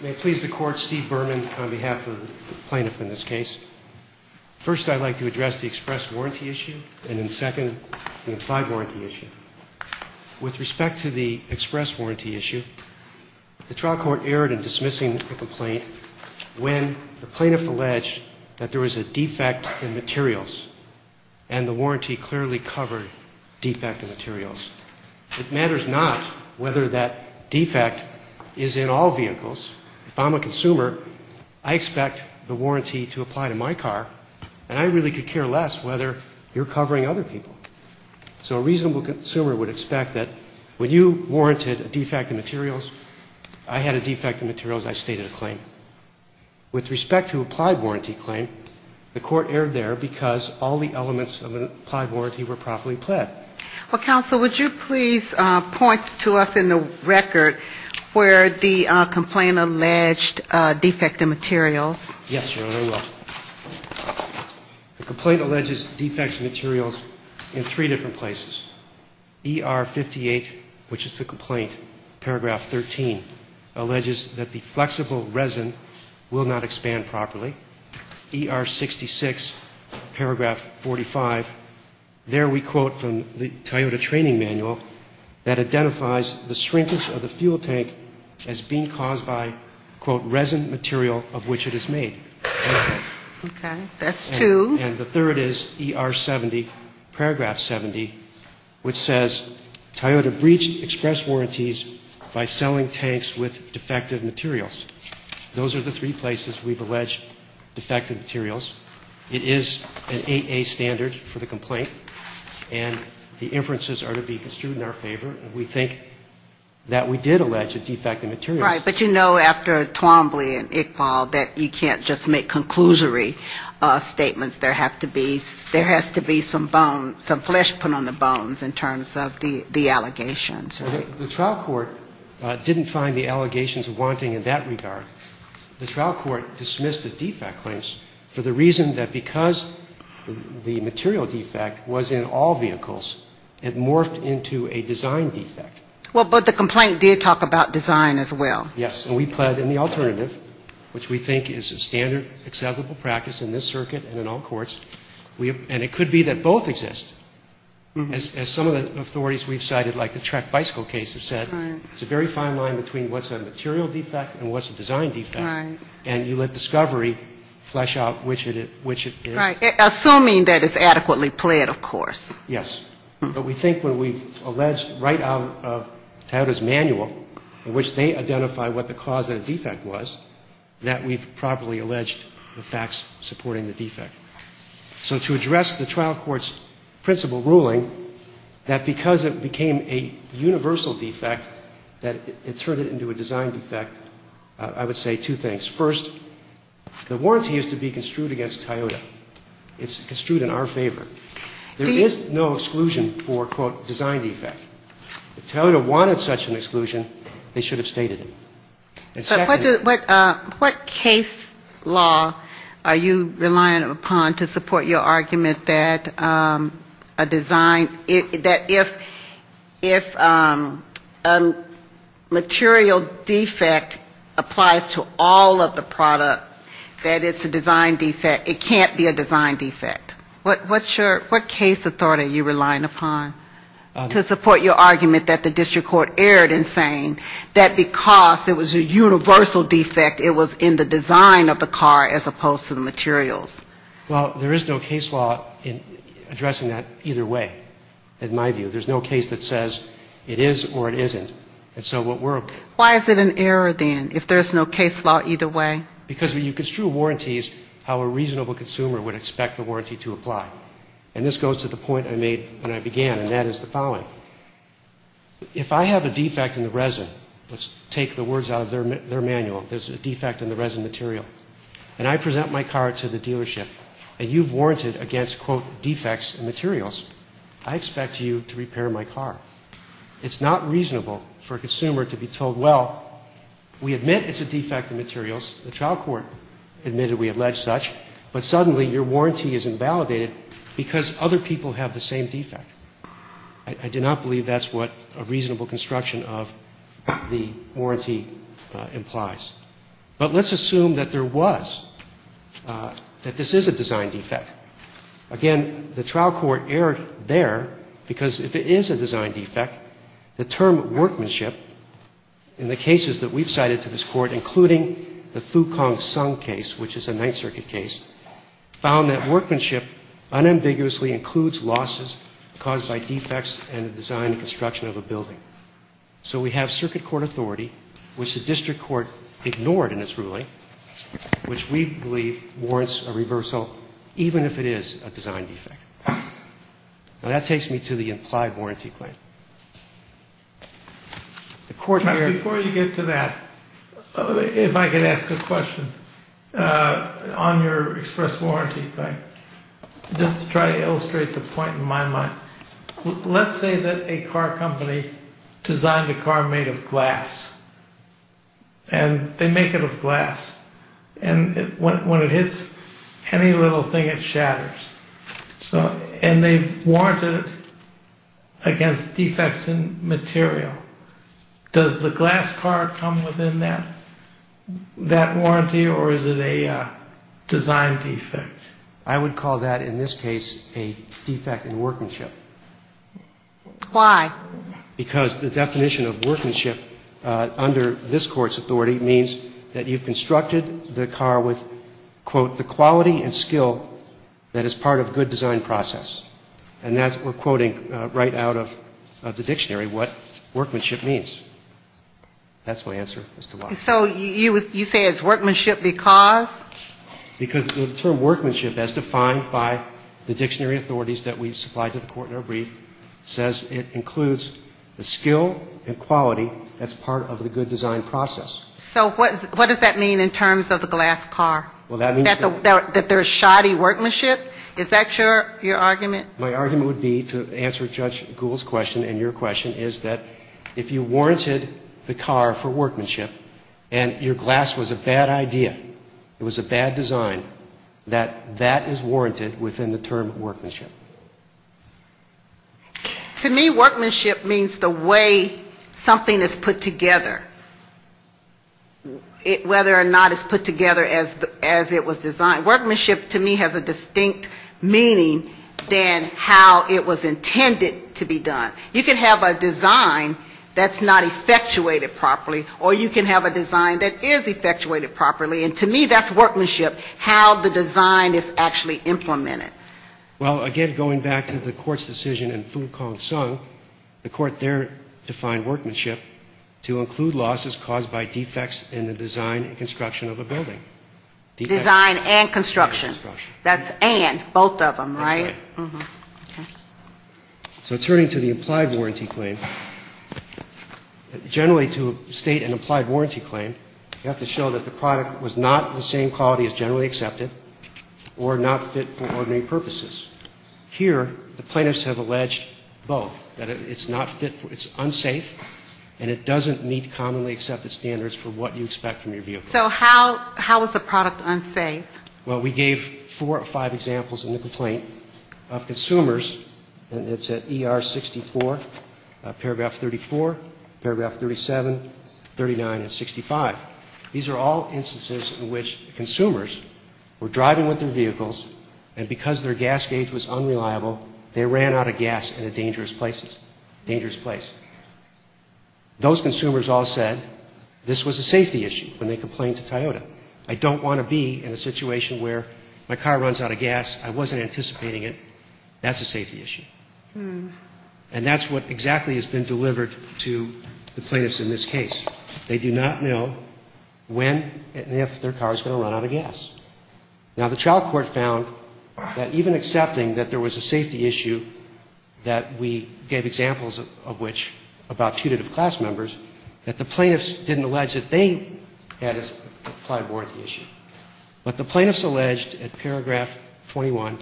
May it please the Court, Steve Berman on behalf of the plaintiff in this case. First, I'd like to address the express warranty issue, and then second, the implied warranty issue. With respect to the express warranty issue, the trial court erred in dismissing the complaint when the plaintiff alleged that there was a defect in materials, and the warranty clearly covered defect in materials. It matters not whether that defect is in all vehicles. If I'm a consumer, I expect the warranty to apply to my car, and I really could care less whether you're covering other people. So a reasonable consumer would expect that when you warranted a defect in materials, I had a defect in materials, I stated a claim. With respect to implied warranty claim, the court erred there because all the elements of an implied warranty were properly pled. Well, counsel, would you please point to us in the record where the complaint alleged defect in materials? Yes, sure, I will. The complaint alleges defect in materials in three different places. ER 58, which is the complaint, paragraph 13, alleges that the flexible resin will not expand properly. ER 66, paragraph 45, there we quote from the Toyota training manual that identifies the shrinkage of the fuel tank as being caused by, quote, resin material of which it is made. Okay, that's two. And the third is ER 70, paragraph 70, which says, Toyota breached express warranties by selling tanks with defective materials. Those are the three places we've alleged defect in materials. It is an 8A standard for the complaint, and the inferences are to be construed in our favor. We think that we did allege a defect in materials. Right, but you know after Twombly and Iqbal that you can't just make conclusory statements. There has to be some bone, some flesh put on the bones in terms of the allegations. The trial court didn't find the allegations of wanting in that regard. The trial court dismissed the defect claims for the reason that because the material defect was in all vehicles, it morphed into a design defect. Well, but the complaint did talk about design as well. Yes, and we planned in the alternative, which we think is a standard, acceptable practice in this circuit and in all courts, and it could be that both exist. As some of the authorities we've cited, like the track bicycle case, have said, it's a very fine line between what's a material defect and what's a design defect, and you let discovery flesh out which it is. Assuming that it's adequately planned, of course. Yes, but we think when we allege right out of Toyota's manual, in which they identify what the cause of the defect was, that we've properly alleged the facts supporting the defect. So to address the trial court's principle ruling that because it became a universal defect, that it turned it into a design defect, I would say two things. First, the warranty is to be construed against Toyota. It's construed in our favor. There is no exclusion for, quote, design defect. If Toyota wanted such an exclusion, they should have stated it. So what case law are you relying upon to support your argument that a design, that if a material defect applies to all of the products, that it's a design defect, it can't be a design defect? What case authority are you relying upon to support your argument that the district court erred in saying that because it was a universal defect, it was in the design of the car as opposed to the materials? Well, there is no case law addressing that either way, in my view. There's no case that says it is or it isn't. Why is it an error, then, if there's no case law either way? Because when you construe warranties, how a reasonable consumer would expect a warranty to apply. And this goes to the point I made when I began, and that is the following. If I have a defect in the resin, let's take the words out of their manual, there's a defect in the resin material, and I present my car to the dealership, and you've warranted against, quote, defects in materials, I expect you to repair my car. It's not reasonable for a consumer to be told, well, we admit it's a defect in materials, the trial court admitted we allege such, but suddenly your warranty is invalidated because other people have the same defect. I do not believe that's what a reasonable construction of the warranty implies. But let's assume that there was, that this is a design defect. Again, the trial court erred there, because if it is a design defect, the term workmanship in the cases that we've cited to this court, including the Fook Kong Sung case, which is a Ninth Circuit case, found that workmanship unambiguously includes losses caused by defects in the design and construction of a building. So we have circuit court authority, which the district court ignored in its ruling, which we believe warrants a reversal, even if it is a design defect. And that takes me to the implied warranty claim. Before you get to that, if I could ask a question on your express warranty claim, just to try to illustrate the point in my mind. Let's say that a car company designed a car made of glass, and they make it of glass. And when it hits any little thing, it shatters. And they warrant it against defects in material. Does the glass car come within that warranty, or is it a design defect? I would call that, in this case, a defect in workmanship. Why? Because the definition of workmanship under this court's authority means that you've constructed the car with, quote, the quality and skill that is part of a good design process. And that's, we're quoting right out of the dictionary, what workmanship means. That's my answer as to why. So you say it's workmanship because? Because the term workmanship, as defined by the dictionary authorities that we've supplied to the court in our brief, says it includes the skill and quality that's part of a good design process. So what does that mean in terms of the glass car? That there's shoddy workmanship? Is that your argument? My argument would be, to answer Judge Gould's question and your question, is that if you warranted the car for workmanship, and your glass was a bad idea, it was a bad design, that that is warranted within the term workmanship. To me, workmanship means the way something is put together. Whether or not it's put together as it was designed. Workmanship, to me, has a distinct meaning than how it was intended to be done. You can have a design that's not effectuated properly, or you can have a design that is effectuated properly, and to me that's workmanship, how the design is actually implemented. Well, again, going back to the court's decision in Foo, Kong, Sung, the court there defined workmanship to include losses caused by defects in the design and construction of a building. Design and construction. That's and, both of them, right? That's right. So turning to the applied warranty claim, generally to state an applied warranty claim, you have to show that the product was not the same quality as generally accepted, or not fit for ordinary purposes. Here, the plaintiffs have alleged both, that it's not fit, it's unsafe, and it doesn't meet commonly accepted standards for what you expect from your vehicle. So how is the product unsafe? Well, we gave four or five examples in the complaint. Consumers, and it's at ER 64, paragraph 34, paragraph 37, 39, and 65. These are all instances in which consumers were driving with their vehicles, and because their gas gauge was unreliable, they ran out of gas in a dangerous place. Those consumers all said, this was a safety issue, and they complained to Toyota. I don't want to be in a situation where my car runs out of gas, I wasn't anticipating it, that's a safety issue. And that's what exactly has been delivered to the plaintiffs in this case. They do not know when and if their car is going to run out of gas. Now, the trial court found that even accepting that there was a safety issue, that we gave examples of which, about two different class members, that the plaintiffs didn't allege that they had a prior warranty issue. But the plaintiffs alleged, at paragraph 21,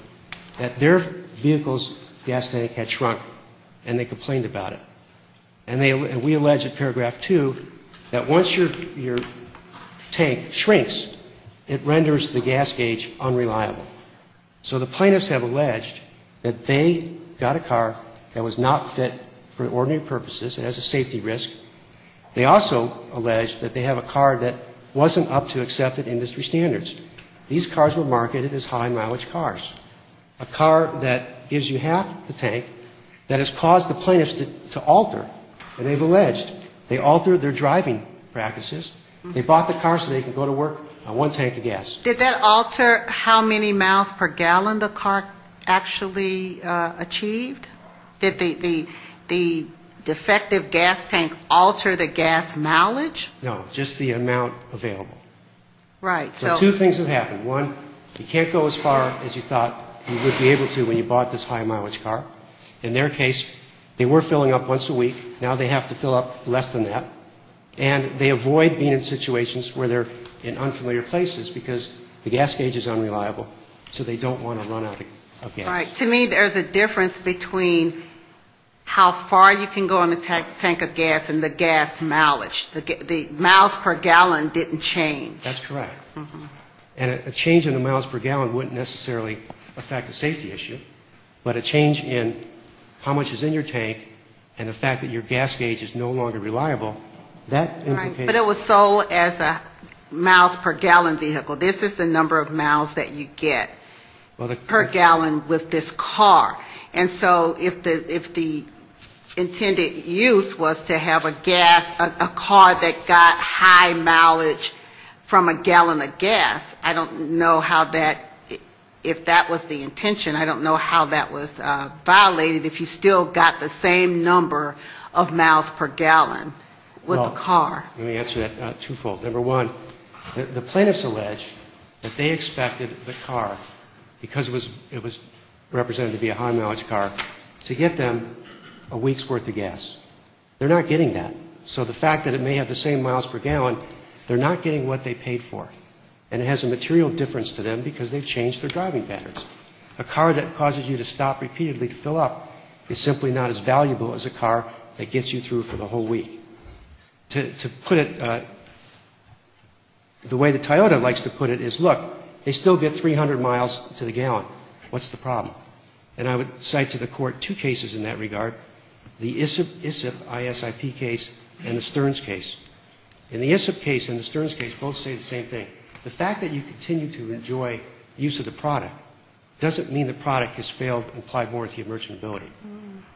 that their vehicle's gas tank had shrunk, and they complained about it. And we allege, at paragraph 2, that once your tank shrinks, it renders the gas gauge unreliable. So the plaintiffs have alleged that they got a car that was not fit for ordinary purposes, it has a safety risk. They also allege that they have a car that wasn't up to accepted industry standards. These cars were marketed as high mileage cars. A car that gives you half the tank, that has caused the plaintiffs to alter, and they've alleged they altered their driving practices. They bought the car so they could go to work on one tank of gas. Did that alter how many miles per gallon the car actually achieved? Did the defective gas tank alter the gas mileage? No, just the amount available. So two things have happened. One, you can't go as far as you thought you would be able to when you bought this high mileage car. In their case, they were filling up once a week. Now they have to fill up less than that. And they avoid being in situations where they're in unfamiliar places, because the gas gauge is unreliable, so they don't want to run out of gas. Right. To me, there's a difference between how far you can go on the tank of gas and the gas mileage. The miles per gallon didn't change. That's correct. And a change in the miles per gallon wouldn't necessarily affect the safety issue, but a change in how much is in your tank and the fact that your gas gauge is no longer reliable, that is. But it was sold as a miles per gallon vehicle. This is the number of miles that you get per gallon with this car. And so if the intended use was to have a gas, a car that got high mileage from a gallon of gas, I don't know how that, if that was the intention, I don't know how that was violated, if you still got the same number of miles per gallon with a car. Let me answer that twofold. Number one, the plaintiffs allege that they expected the car, because it was represented to be a high mileage car, to get them a week's worth of gas. They're not getting that. So the fact that it may have the same miles per gallon, they're not getting what they paid for. And it has a material difference to them because they've changed their driving patterns. A car that causes you to stop repeatedly to fill up is simply not as valuable as a car that gets you through for the whole week. To put it, the way the Toyota likes to put it is, look, they still get 300 miles to the gallon. What's the problem? And I would cite to the court two cases in that regard, the ISIP case and the Stearns case. In the ISIP case and the Stearns case, both say the same thing. The fact that you continue to enjoy use of the product doesn't mean the product has failed and applied more to your merchantability.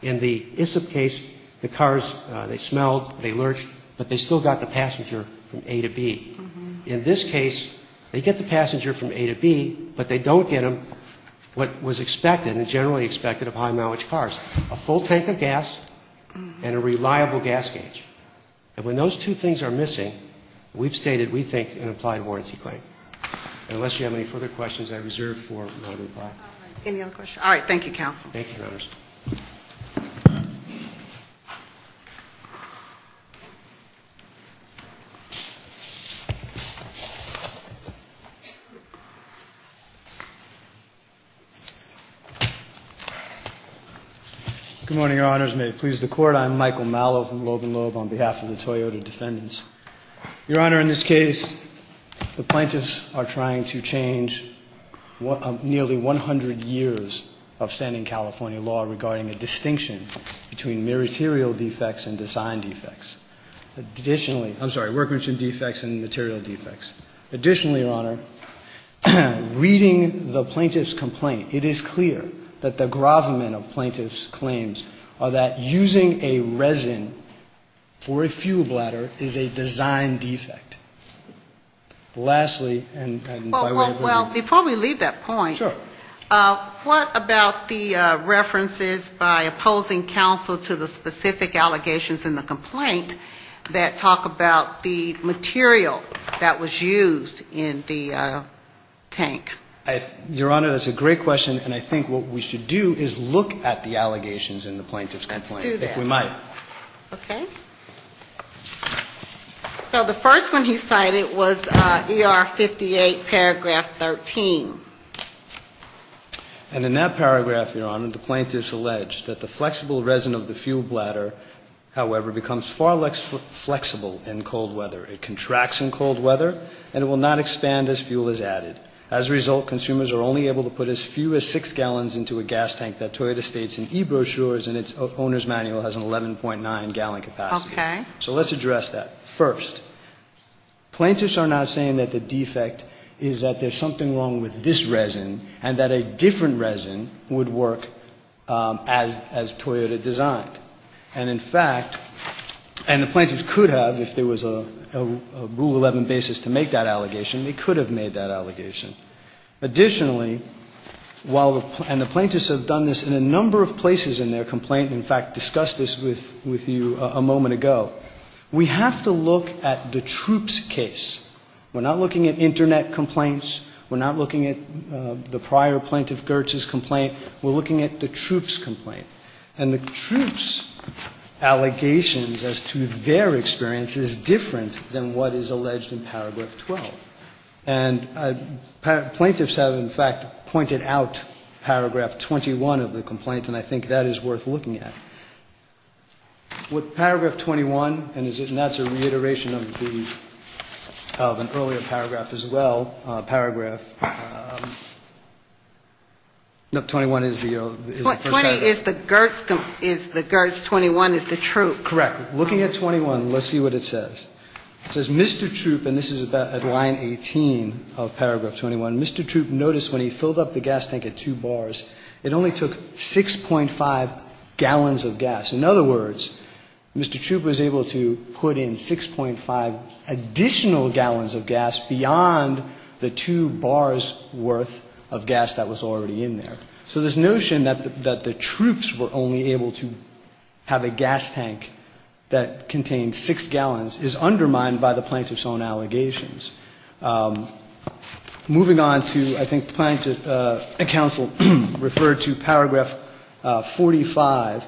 In the ISIP case, the cars, they smelled, they lurched, but they still got the passenger from A to B. In this case, they get the passenger from A to B, but they don't get them what was expected and generally expected of high mileage cars, a full tank of gas and a reliable gas gauge. And when those two things are missing, we've stated, we think, an applied warranty claim. Unless you have any further questions, I reserve for another time. Any other questions? All right, thank you, counsel. Thank you, notice. Good morning, your honors. May it please the court. I'm Michael Mallow from Logan Lode on behalf of the Toyota defendants. Your honor, in this case, the plaintiffs are trying to change nearly 100 years of standing California law regarding the distinction between meritorial defects and design defects. Additionally, I'm sorry, workmanship defects and material defects. Additionally, your honor, reading the plaintiff's complaint, it is clear that the grovement of plaintiff's claims are that using a resin for a fuel bladder is a design defect. Lastly, and I'm sorry. Well, before we leave that point, what about the references by opposing counsel to the specific allegations in the complaint that talk about the material that was used in the tank? Your honor, that's a great question, and I think what we should do is look at the allegations in the plaintiff's complaint, if we might. Okay. So the first one he cited was ER 58, paragraph 13. And in that paragraph, your honor, the plaintiff's alleged that the flexible resin of the fuel bladder, however, becomes far less flexible in cold weather. It contracts in cold weather, and it will not expand as fuel is added. As a result, consumers are only able to put as few as six gallons into a gas tank that Toyota states in e-brochures, and its owner's manual has an 11.9-gallon capacity. Okay. So let's address that. First, plaintiffs are not saying that the defect is that there's something wrong with this resin, and that a different resin would work as Toyota designed. And in fact, and the plaintiff could have, if there was a rule 11 basis to make that allegation, they could have made that allegation. Additionally, while the plaintiffs have done this in a number of places in their complaint, in fact, discussed this with you a moment ago, we have to look at the troops' case. We're not looking at Internet complaints. We're not looking at the prior plaintiff, Gertz's, complaint. We're looking at the troops' complaint. And the troops' allegations as to their experience is different than what is alleged in Paragraph 12. And plaintiffs have, in fact, pointed out Paragraph 21 of the complaint, and I think that is worth looking at. With Paragraph 21, and that's a reiteration of an earlier paragraph as well, Paragraph 21 is the first item. It is the Gertz, the Gertz 21 is the troop. Correct. Looking at 21, let's see what it says. It says, Mr. Troop, and this is about at line 18 of Paragraph 21, Mr. Troop noticed when he filled up the gas tank at two bars, it only took 6.5 gallons of gas. In other words, Mr. Troop was able to put in 6.5 additional gallons of gas beyond the two bars' worth of gas that was already in there. So this notion that the troops were only able to have a gas tank that contained 6 gallons is undermined by the plaintiffs' own allegations. Moving on to, I think, a counsel referred to Paragraph 45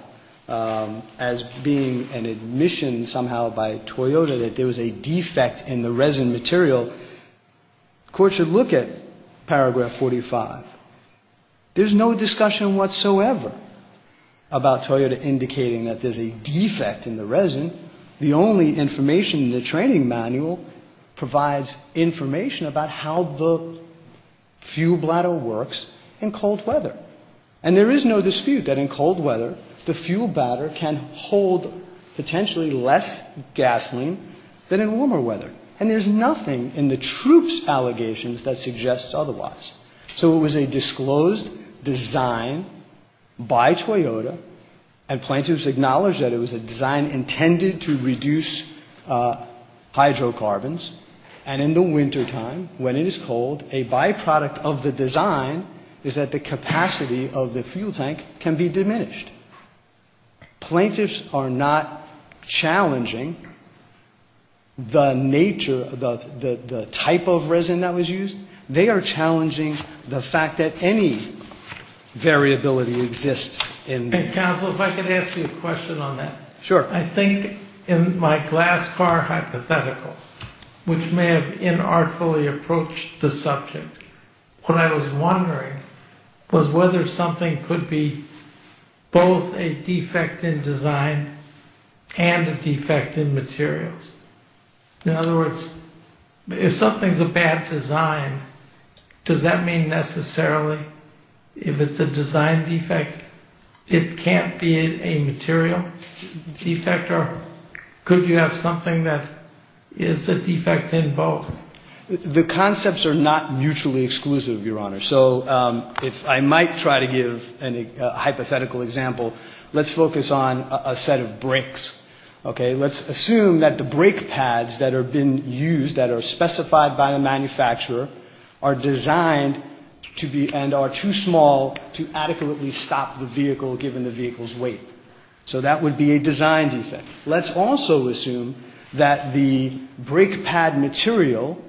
as being an admission somehow by Toyota that there was a defect in the resin material. The court should look at Paragraph 45. There's no discussion whatsoever about Toyota indicating that there's a defect in the resin. The only information in the training manual provides information about how the fuel bladder works in cold weather. And there is no dispute that in cold weather, the fuel bladder can hold potentially less gasoline than in warmer weather. And there's nothing in the troops' allegations that suggests otherwise. So it was a disclosed design by Toyota, and plaintiffs acknowledge that it was a design intended to reduce hydrocarbons. And in the wintertime, when it is cold, a byproduct of the design is that the capacity of the fuel tank can be diminished. Plaintiffs are not challenging the nature, the type of resin that was used. They are challenging the fact that any variability exists. And counsel, if I could ask you a question on that. Sure. I think in my glass car hypothetical, which may have inartfully approached the subject, what I was wondering was whether something could be both a defect in design and a defect in materials. In other words, if something's a bad design, does that mean necessarily if it's a design defect, it can't be a material defect? Or could you have something that is a defect in both? The concepts are not mutually exclusive, Your Honor. So I might try to give a hypothetical example. Let's focus on a set of brakes, okay? Let's assume that the brake pads that have been used, that are specified by the manufacturer, are designed to be and are too small to adequately stop the vehicle given the vehicle's weight. So that would be a design defect. Let's also assume that the brake pad material,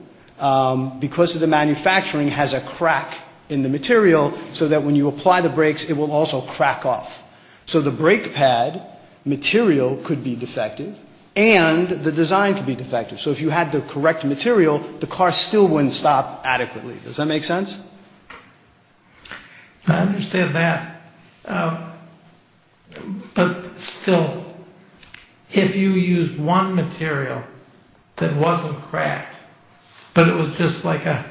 because of the manufacturing, has a crack in the material, so that when you apply the brakes, it will also crack off. So the brake pad material could be defective, and the design could be defective. So if you had the correct material, the car still wouldn't stop adequately. Does that make sense? I understand that. But still, if you used one material that wasn't cracked, but it was just like a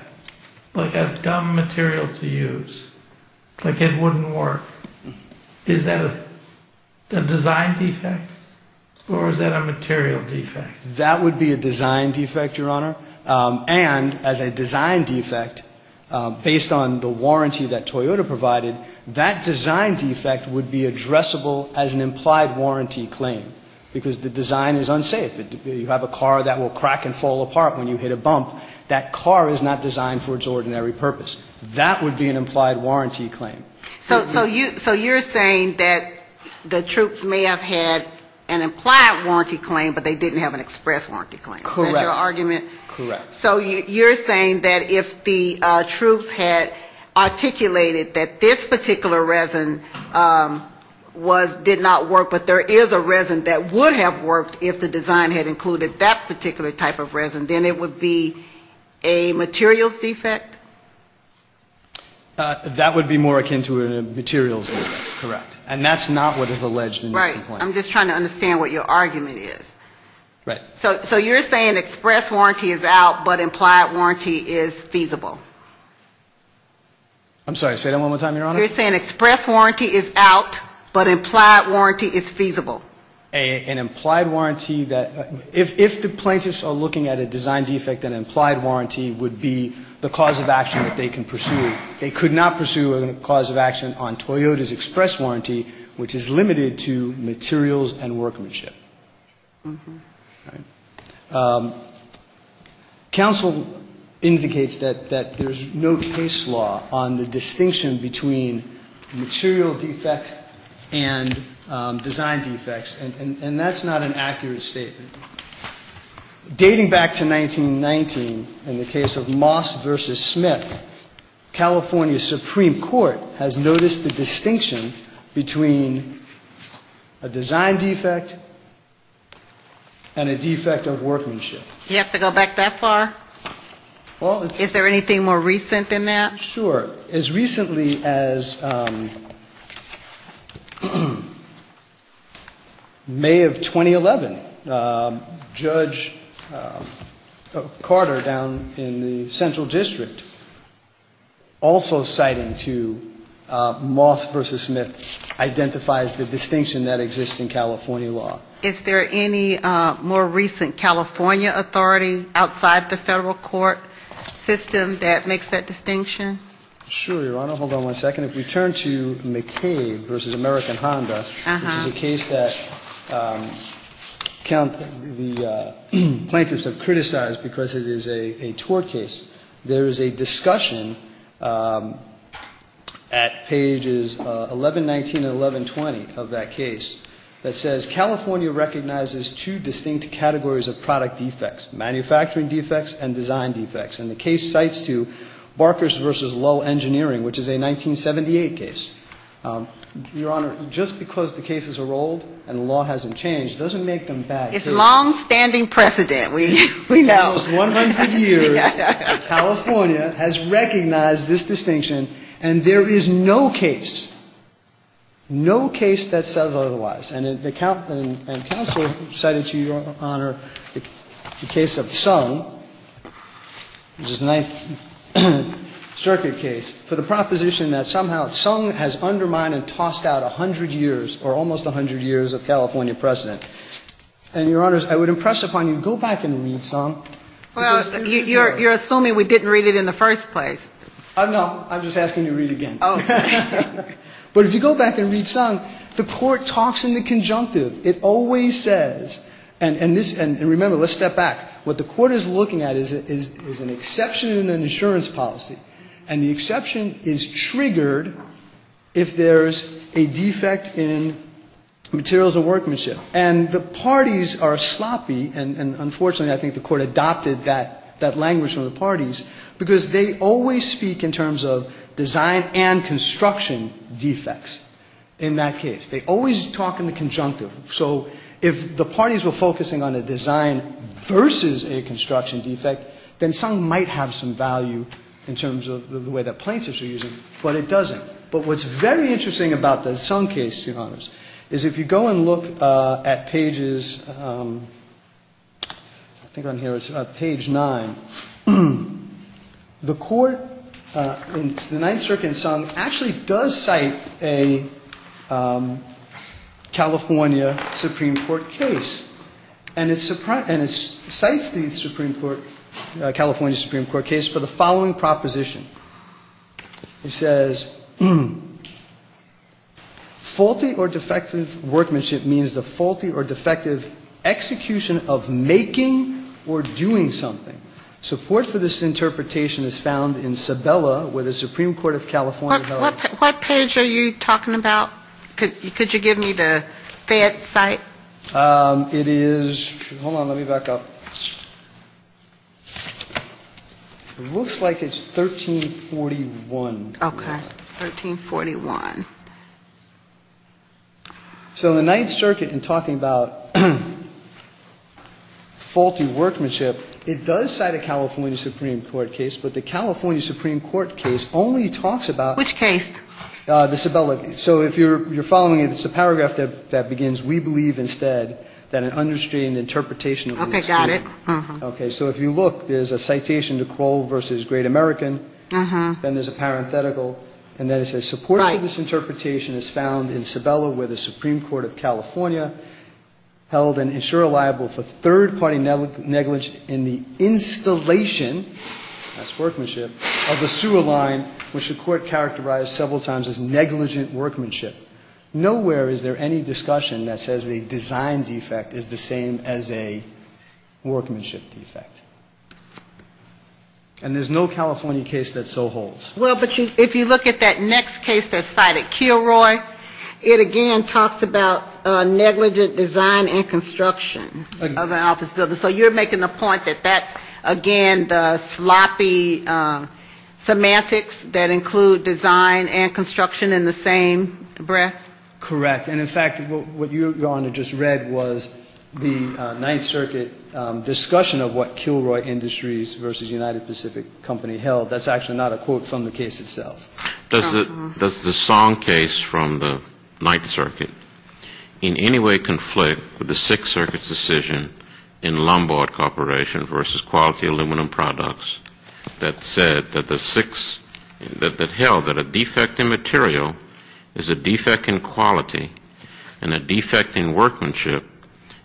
dumb material to use, like it wouldn't work, is that a design defect, or is that a material defect? That would be a design defect, Your Honor. And as a design defect, based on the warranty that Toyota provided, that design defect would be addressable as an implied warranty claim, because the design is unsafe. You have a car that will crack and fall apart when you hit a bump. That car is not designed for its ordinary purpose. That would be an implied warranty claim. So you're saying that the troops may have had an implied warranty claim, but they didn't have an express warranty claim. Correct. So you're saying that if the troops had articulated that this particular resin did not work, but there is a resin that would have worked if the design had included that particular type of resin, then it would be a materials defect? That would be more akin to a materials defect, correct. And that's not what is alleged in the complaint. Right. I'm just trying to understand what your argument is. Right. So you're saying express warranty is out, but implied warranty is feasible? I'm sorry, say that one more time, Your Honor. You're saying express warranty is out, but implied warranty is feasible? An implied warranty that, if the plaintiffs are looking at a design defect, an implied warranty would be the cause of action that they can pursue. They could not pursue a cause of action on Toyota's express warranty, which is limited to materials and workmanship. Counsel indicates that there's no case law on the distinction between material defects and design defects, and that's not an accurate statement. Dating back to 1919, in the case of Moss v. Smith, California Supreme Court has noticed a distinction between a design defect and a defect of workmanship. You have to go back that far? Is there anything more recent than that? Sure. As recently as May of 2011, Judge Carter, down in the Central District, also citing to Moss v. Smith identifies the distinction that exists in California law. Is there any more recent California authority outside the federal court system that makes that distinction? Sure, Your Honor. Hold on one second. If we turn to McCabe v. American Honda, which is a case that the plaintiffs have criticized because it is a tort case, there is a discussion at pages 1119 and 1120 of that case that says, California recognizes two distinct categories of product defects, manufacturing defects and design defects. And the case cites to Barkers v. Lull Engineering, which is a 1978 case. Your Honor, just because the cases are old and the law hasn't changed doesn't make them bad cases. It's long-standing precedent. For almost 100 years, California has recognized this distinction, and there is no case, no case that says otherwise. And counsel cited to Your Honor the case of Sung, which is a Ninth Circuit case, for the proposition that somehow Sung has undermined and tossed out 100 years, or almost 100 years, of California precedent. And, Your Honors, I would impress upon you to go back and read Sung. Well, you're assuming we didn't read it in the first place. No, I'm just asking you to read it again. But if you go back and read Sung, the court talks in the conjunctive. It always says, and remember, let's step back. What the court is looking at is an exception in the insurance policy, and the exception is triggered if there's a defect in materials of workmanship. And the parties are sloppy, and unfortunately I think the court adopted that language from the parties, because they always speak in terms of design and construction defects in that case. They always talk in the conjunctive. So, if the parties were focusing on the design versus a construction defect, then Sung might have some value in terms of the way that plaintiffs are using it, but it doesn't. But what's very interesting about the Sung case, Your Honors, is if you go and look at pages, I think on here it's page 9, the court, the Ninth Circuit in Sung, actually does cite a California Supreme Court case. And it cites the California Supreme Court case for the following proposition. It says, faulty or defective workmanship means the faulty or defective execution of making or doing something. Support for this interpretation is found in Sabella with the Supreme Court of California. What page are you talking about? Could you give me the site? It is, hold on, let me back up. It looks like it's 1341. Okay, 1341. So, the Ninth Circuit, in talking about faulty workmanship, it does cite a California Supreme Court case, but the California Supreme Court case only talks about... Which case? The Sabella case. So, if you're following it, it's a paragraph that begins, we believe instead, that an understating interpretation... Okay, got it. Okay, so if you look, there's a citation to Kroll versus Great American, then there's a parenthetical, and then it says, support for this interpretation is found in Sabella with the Supreme Court of California, held an insurer liable for third-party negligence in the installation, that's workmanship, of a sewer line, which the court characterized several times as negligent workmanship. Nowhere is there any discussion that says a design defect is the same as a workmanship defect. And there's no California case that so holds. Well, but if you look at that next case that's cited, Kilroy, it again talks about negligent design and construction of an office building. So, you're making a point that that's, again, the sloppy semantics that include design and construction in the same breath? Correct. And in fact, what you, Your Honor, just read was the Ninth Circuit discussion of what Kilroy Industries versus United Pacific Company held. That's actually not a quote from the case itself. Does the Song case from the Ninth Circuit in any way conflict with the Sixth Circuit's decision in Lombard Corporation versus Quality Aluminum Products that said that the six, that held that a defect in material is a defect in quality, and a defect in workmanship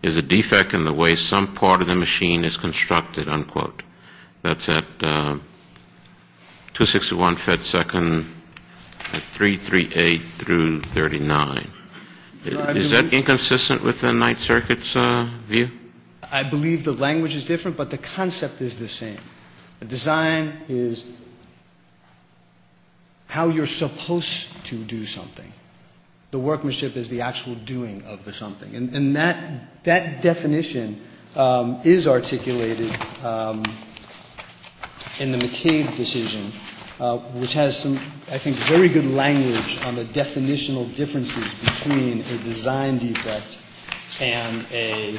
is a defect in the way some part of the machine is constructed, unquote. That's at 261 feet per second at 338 through 39. Is that inconsistent with the Ninth Circuit's view? I believe the language is different, but the concept is the same. Design is how you're supposed to do something. The workmanship is the actual doing of the something. And that definition is articulated in the McCabe decision, which has some, I think, very good language on the definitional differences between a design defect and a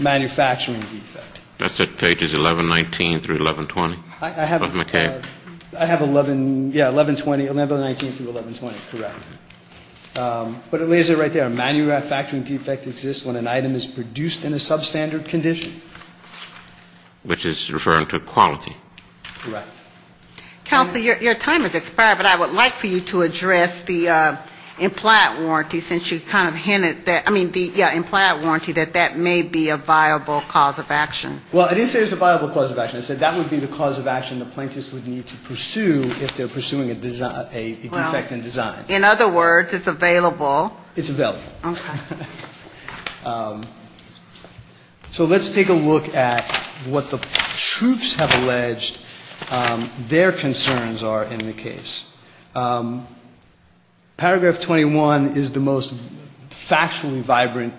manufacturing defect. That's at pages 1119 through 1120 of McCabe. I have 11, yeah, 1120, 1119 through 1120, correct. But it lays it right there. A manufacturing defect exists when an item is produced in a substandard condition. Which is referring to quality. Correct. Kelsey, your time has expired, but I would like for you to address the implied warranty, since you kind of hinted that, I mean, the implied warranty that that may be a viable cause of action. Well, I didn't say it was a viable cause of action. I said that would be the cause of action the plaintiffs would need to pursue if they're pursuing a defect in design. In other words, it's available. It's available. Okay. So let's take a look at what the troops have alleged their concerns are in the case. Paragraph 21 is the most factually vibrant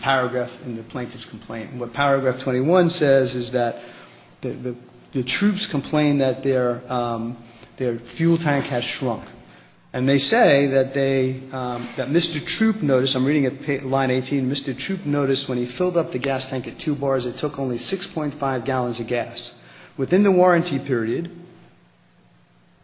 paragraph in the plaintiff's complaint. What paragraph 21 says is that the troops complain that their fuel tank has shrunk. And they say that they, that Mr. Troop noticed, I'm reading at line 18, Mr. Troop noticed when he filled up the gas tank at two bars, it took only 6.5 gallons of gas. Within the warranty period,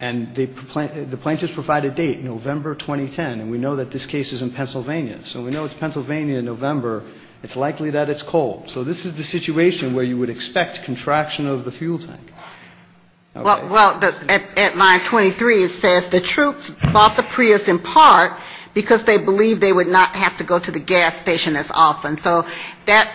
and the plaintiffs provide a date, November 2010, and we know that this case is in Pennsylvania. So we know it's Pennsylvania in November. It's likely that it's cold. So this is the situation where you would expect contraction of the fuel tank. Well, at line 23 it says the troops bought the Prius in part because they believed they would not have to go to the gas station as often. So that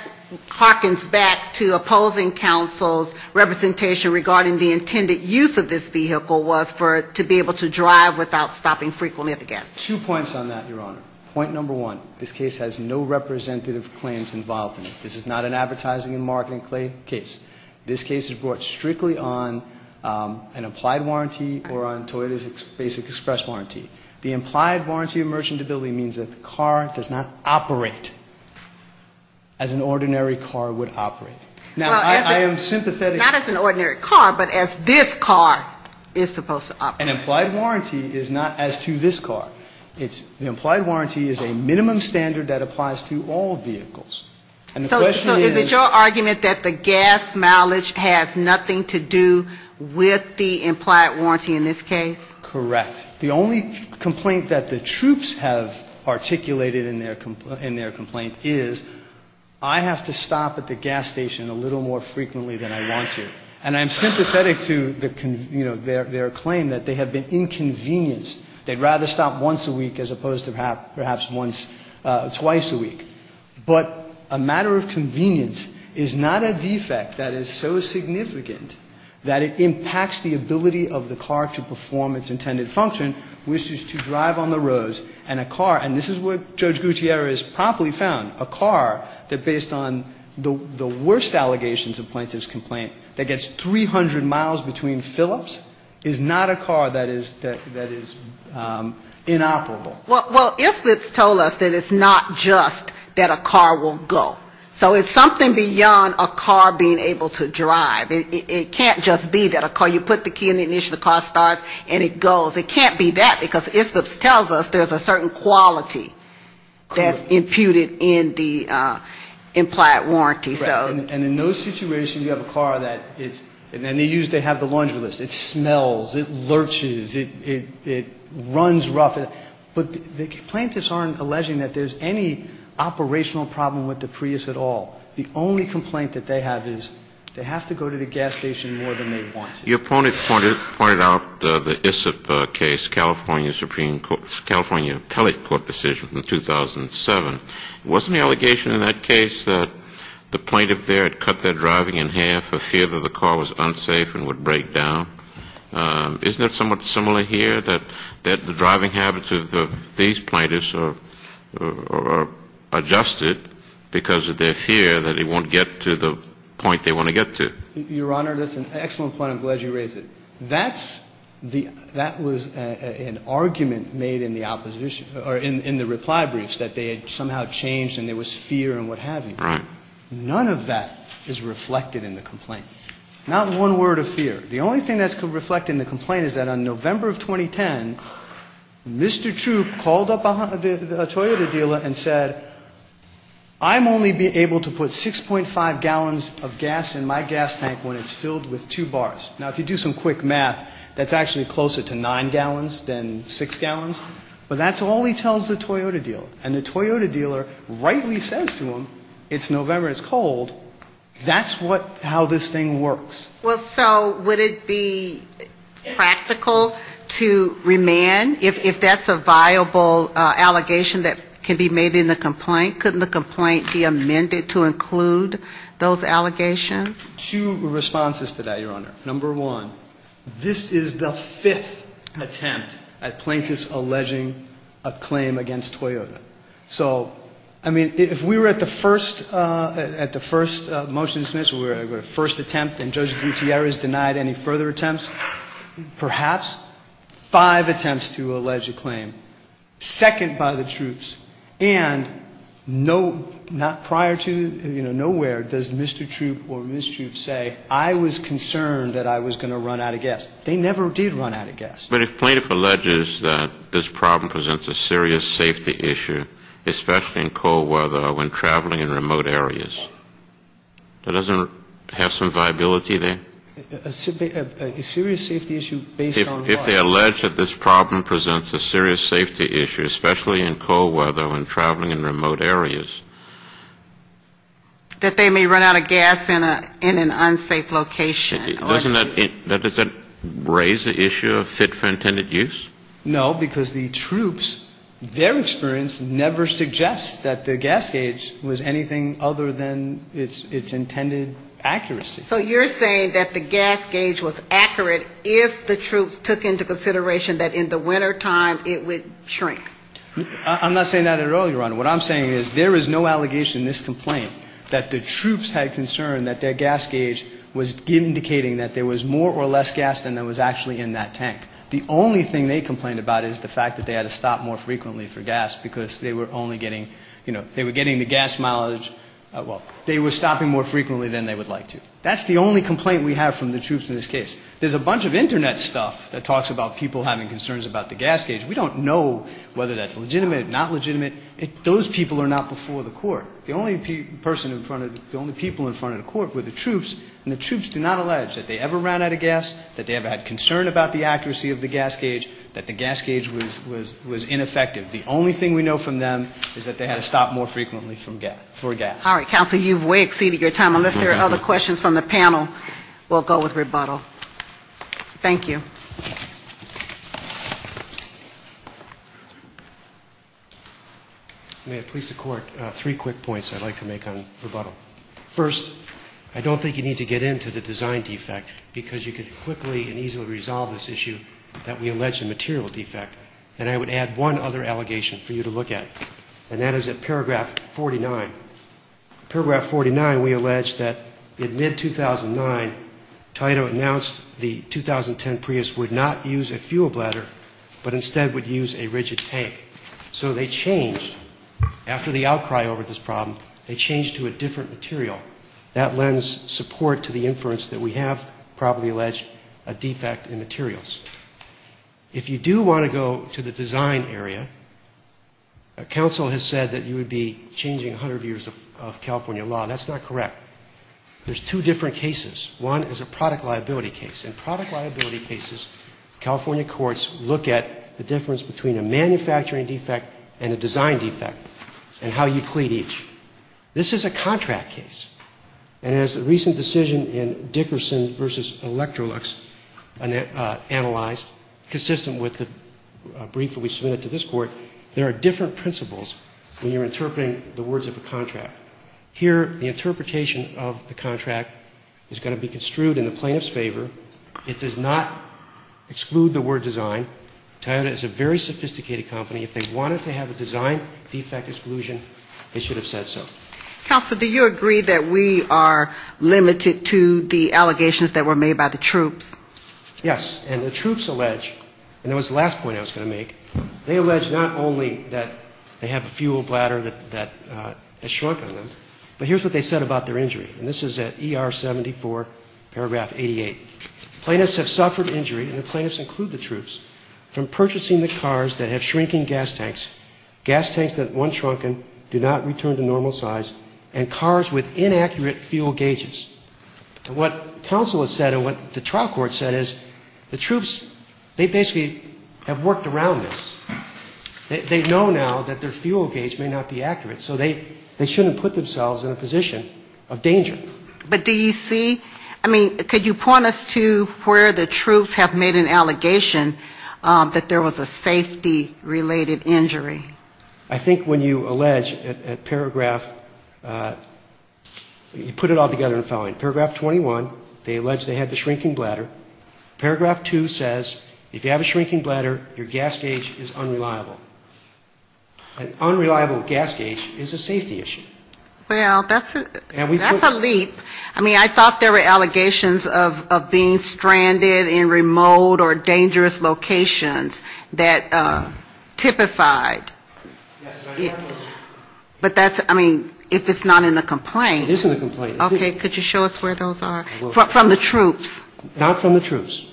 harkens back to opposing counsel's representation regarding the intended use of this vehicle was for, to be able to drive without stopping frequently at the gas station. Two points on that, Your Honor. Point number one, this case has no representative claims involved in it. This is not an advertising and marketing case. This case is brought strictly on an applied warranty or on Toyota's basic express warranty. The implied warranty of merchantability means that the car does not operate as an ordinary car would operate. Now, I am sympathetic. Not as an ordinary car, but as this car is supposed to operate. An implied warranty is not as to this car. An implied warranty is a minimum standard that applies to all vehicles. So is it your argument that the gas mileage has nothing to do with the implied warranty in this case? Correct. The only complaint that the troops have articulated in their complaint is I have to stop at the gas station a little more frequently than I want to. And I'm sympathetic to their claim that they have been inconvenienced. They'd rather stop once a week as opposed to perhaps once, twice a week. But a matter of convenience is not a defect that is so significant that it impacts the ability of the car to perform its intended function, which is to drive on the roads. And this is what Judge Gutierrez promptly found. A car that, based on the worst allegations of plaintiff's complaint, that gets 300 miles between Phillips is not a car that is inoperable. Well, Islips told us that it's not just that a car will go. So it's something beyond a car being able to drive. It can't just be that a car, you put the key in the ignition, the car starts, and it goes. It can't be that because Islips tells us there's a certain quality that's imputed in the implied warranty. And in those situations, you have a car that they use to have the laundry list. It smells. It lurches. It runs rough. But the plaintiffs aren't alleging that there's any operational problem with the Prius at all. The only complaint that they have is they have to go to the gas station more than they want to. Your opponent pointed out the Islip case, California Supreme Court, California Appellate Court decision from 2007. Wasn't the allegation in that case that the plaintiff there had cut their driving in half for fear that the car was unsafe and would break down? Isn't it somewhat similar here that the driving habits of these plaintiffs are adjusted because of their fear that it won't get to the point they want to get to? Your Honor, that's an excellent point. I'm glad you raised it. That was an argument made in the reply briefs that they had somehow changed and there was fear and what have you. None of that is reflected in the complaint. Not one word of fear. The only thing that's reflected in the complaint is that on November of 2010, Mr. Chu called up a Toyota dealer and said, I'm only able to put 6.5 gallons of gas in my gas tank when it's filled with two bars. Now, if you do some quick math, that's actually closer to nine gallons than six gallons. But that's all he tells the Toyota dealer. And the Toyota dealer rightly says to him, it's November, it's cold. That's how this thing works. Well, so would it be practical to remand if that's a viable allegation that can be made in the complaint? Couldn't the complaint be amended to include those allegations? Two responses to that, Your Honor. Number one, this is the fifth attempt at plaintiffs alleging a claim against Toyota. So, I mean, if we were at the first, at the first motion, the first attempt and Judge Gutierrez denied any further attempts, perhaps five attempts to allege a claim, second by the troops, and no, not prior to, you know, nowhere does Mr. Chu or Ms. Chu say, I was concerned that I was going to run out of gas. But if plaintiff alleges that this problem presents a serious safety issue, especially in cold weather when traveling in remote areas, that doesn't have some viability there? A serious safety issue based on what? If they allege that this problem presents a serious safety issue, especially in cold weather when traveling in remote areas. That they may run out of gas in an unsafe location. Doesn't that raise the issue of fit for intended use? No, because the troops, their experience never suggests that the gas gauge was anything other than its intended accuracy. So you're saying that the gas gauge was accurate if the troops took into consideration that in the wintertime it would shrink? I'm not saying that at all, Your Honor. What I'm saying is there is no allegation in this complaint that the troops had concern that their gas gauge was indicating that there was more or less gas than was actually in that tank. The only thing they complained about is the fact that they had to stop more frequently for gas because they were only getting, you know, they were getting the gas mileage, well, they were stopping more frequently than they would like to. That's the only complaint we have from the troops in this case. There's a bunch of Internet stuff that talks about people having concerns about the gas gauge. We don't know whether that's legitimate, not legitimate. Those people are not before the court. The only people in front of the court were the troops, and the troops do not allege that they ever ran out of gas, that they ever had concern about the accuracy of the gas gauge, that the gas gauge was ineffective. The only thing we know from them is that they had to stop more frequently for gas. All right, counsel, you've way exceeded your time. Unless there are other questions from the panel, we'll go with rebuttal. Thank you. May I please, the court, three quick points I'd like to make on rebuttal. First, I don't think you need to get into the design defect because you can quickly and easily resolve this issue that we allege a material defect. And I would add one other allegation for you to look at, and that is at paragraph 49. Paragraph 49, we allege that in mid-2009, TITO announced the 2010 Prius would not use a fuel bladder, but instead would use a rigid tank. So they changed, after the outcry over this problem, they changed to a different material. That lends support to the inference that we have probably alleged a defect in materials. If you do want to go to the design area, counsel has said that you would be changing 100 years of California law. That's not correct. There's two different cases. One is a product liability case. In product liability cases, California courts look at the difference between a manufacturing defect and a design defect and how you clean each. This is a contract case. And as a recent decision in Dickerson v. Electrolux analyzed, consistent with the brief that we submitted to this court, there are different principles when you're interpreting the words of a contract. Here, the interpretation of the contract is going to be construed in the plaintiff's favor. It does not exclude the word design. Toyota is a very sophisticated company. If they wanted to have a design defect exclusion, they should have said so. Counsel, do you agree that we are limited to the allegations that were made by the troops? Yes. And the troops allege, and that was the last point I was going to make, they allege not only that they have a fuel bladder that has shrunk on them, but here's what they said about their injury. And this is at ER 74, paragraph 88. Plaintiffs have suffered injury, and the plaintiffs include the troops, from purchasing the cars that have shrinking gas tanks, gas tanks that once shrunken do not return to normal size, and cars with inaccurate fuel gauges. So what counsel has said and what the trial court said is the troops, they basically have worked around this. They know now that their fuel gauge may not be accurate, so they shouldn't put themselves in a position of danger. But do you see, I mean, could you point us to where the troops have made an allegation that there was a safety-related injury? I think when you allege at paragraph, you put it all together in the following. Paragraph 21, they allege they had the shrinking bladder. Paragraph 2 says, if you have a shrinking bladder, your gas gauge is unreliable. An unreliable gas gauge is a safety issue. Well, that's a leap. I mean, I thought there were allegations of being stranded in remote or dangerous locations that typified. But that's, I mean, if it's not in the complaint. It is in the complaint. Okay, could you show us where those are? From the troops. Not from the troops.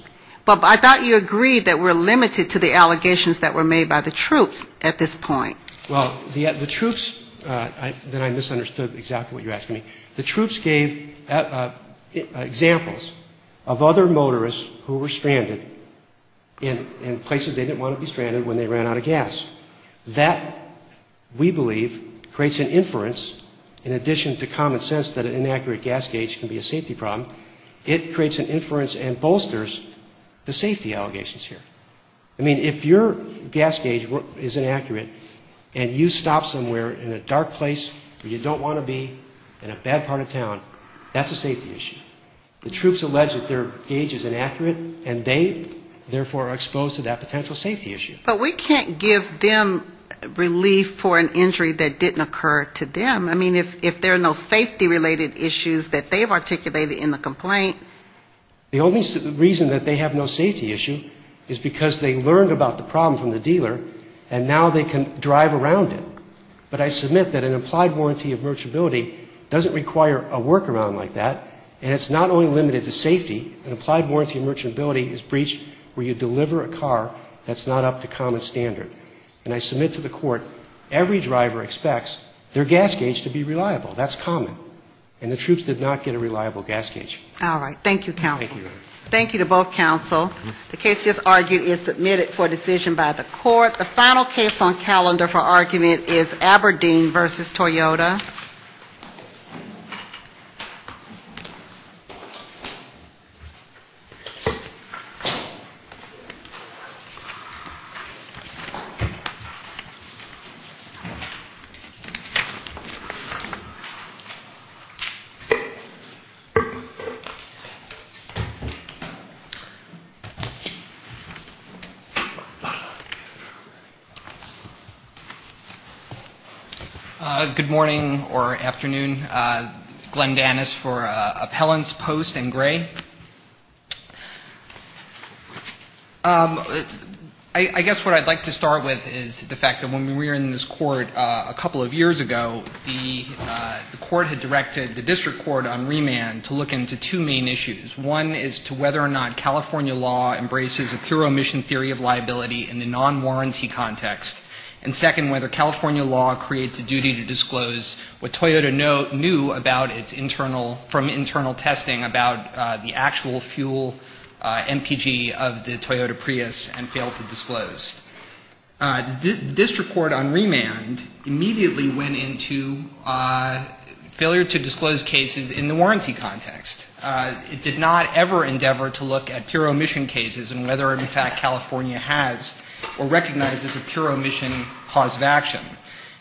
But I thought you agreed that we're limited to the allegations that were made by the troops at this point. Well, the troops, then I misunderstood exactly what you're asking me. The troops gave examples of other motorists who were stranded in places they didn't want to be stranded when they ran out of gas. That, we believe, creates an inference in addition to common sense that an inaccurate gas gauge can be a safety problem. It creates an inference and bolsters the safety allegations here. I mean, if your gas gauge is inaccurate and you stop somewhere in a dark place where you don't want to be in a bad part of town, that's a safety issue. The troops allege that their gauge is inaccurate and they, therefore, are exposed to that potential safety issue. But we can't give them relief for an injury that didn't occur to them. I mean, if there are no safety-related issues that they've articulated in the complaint. The only reason that they have no safety issue is because they learned about the problem from the dealer and now they can drive around it. But I submit that an applied warranty of merchantability doesn't require a workaround like that. And it's not only limited to safety. An applied warranty of merchantability is breached where you deliver a car that's not up to common standard. And I submit to the court, every driver expects their gas gauge to be reliable. That's common. And the troops did not get a reliable gas gauge. All right. Thank you, counsel. Thank you. Thank you to both counsel. The case just argued is submitted for decision by the court. The final case on calendar for argument is Aberdeen v. Toyota. Good morning or afternoon. Glenn Dannis for Appellants Post and Gray. I guess what I'd like to start with is the fact that when we were in this court a couple of years ago, the court had directed the district court on remand to look into two main issues. One is to whether or not California law embraces a thorough emission theory of liability in the non-warranty context. And second, whether California law creates a duty to disclose what Toyota knew from internal testing about the actual fuel MPG of the Toyota Prius and failed to disclose. The district court on remand immediately went into failure to disclose cases in the warranty context. It did not ever endeavor to look at pure emission cases and whether in fact California has or recognizes a pure emission cause of action.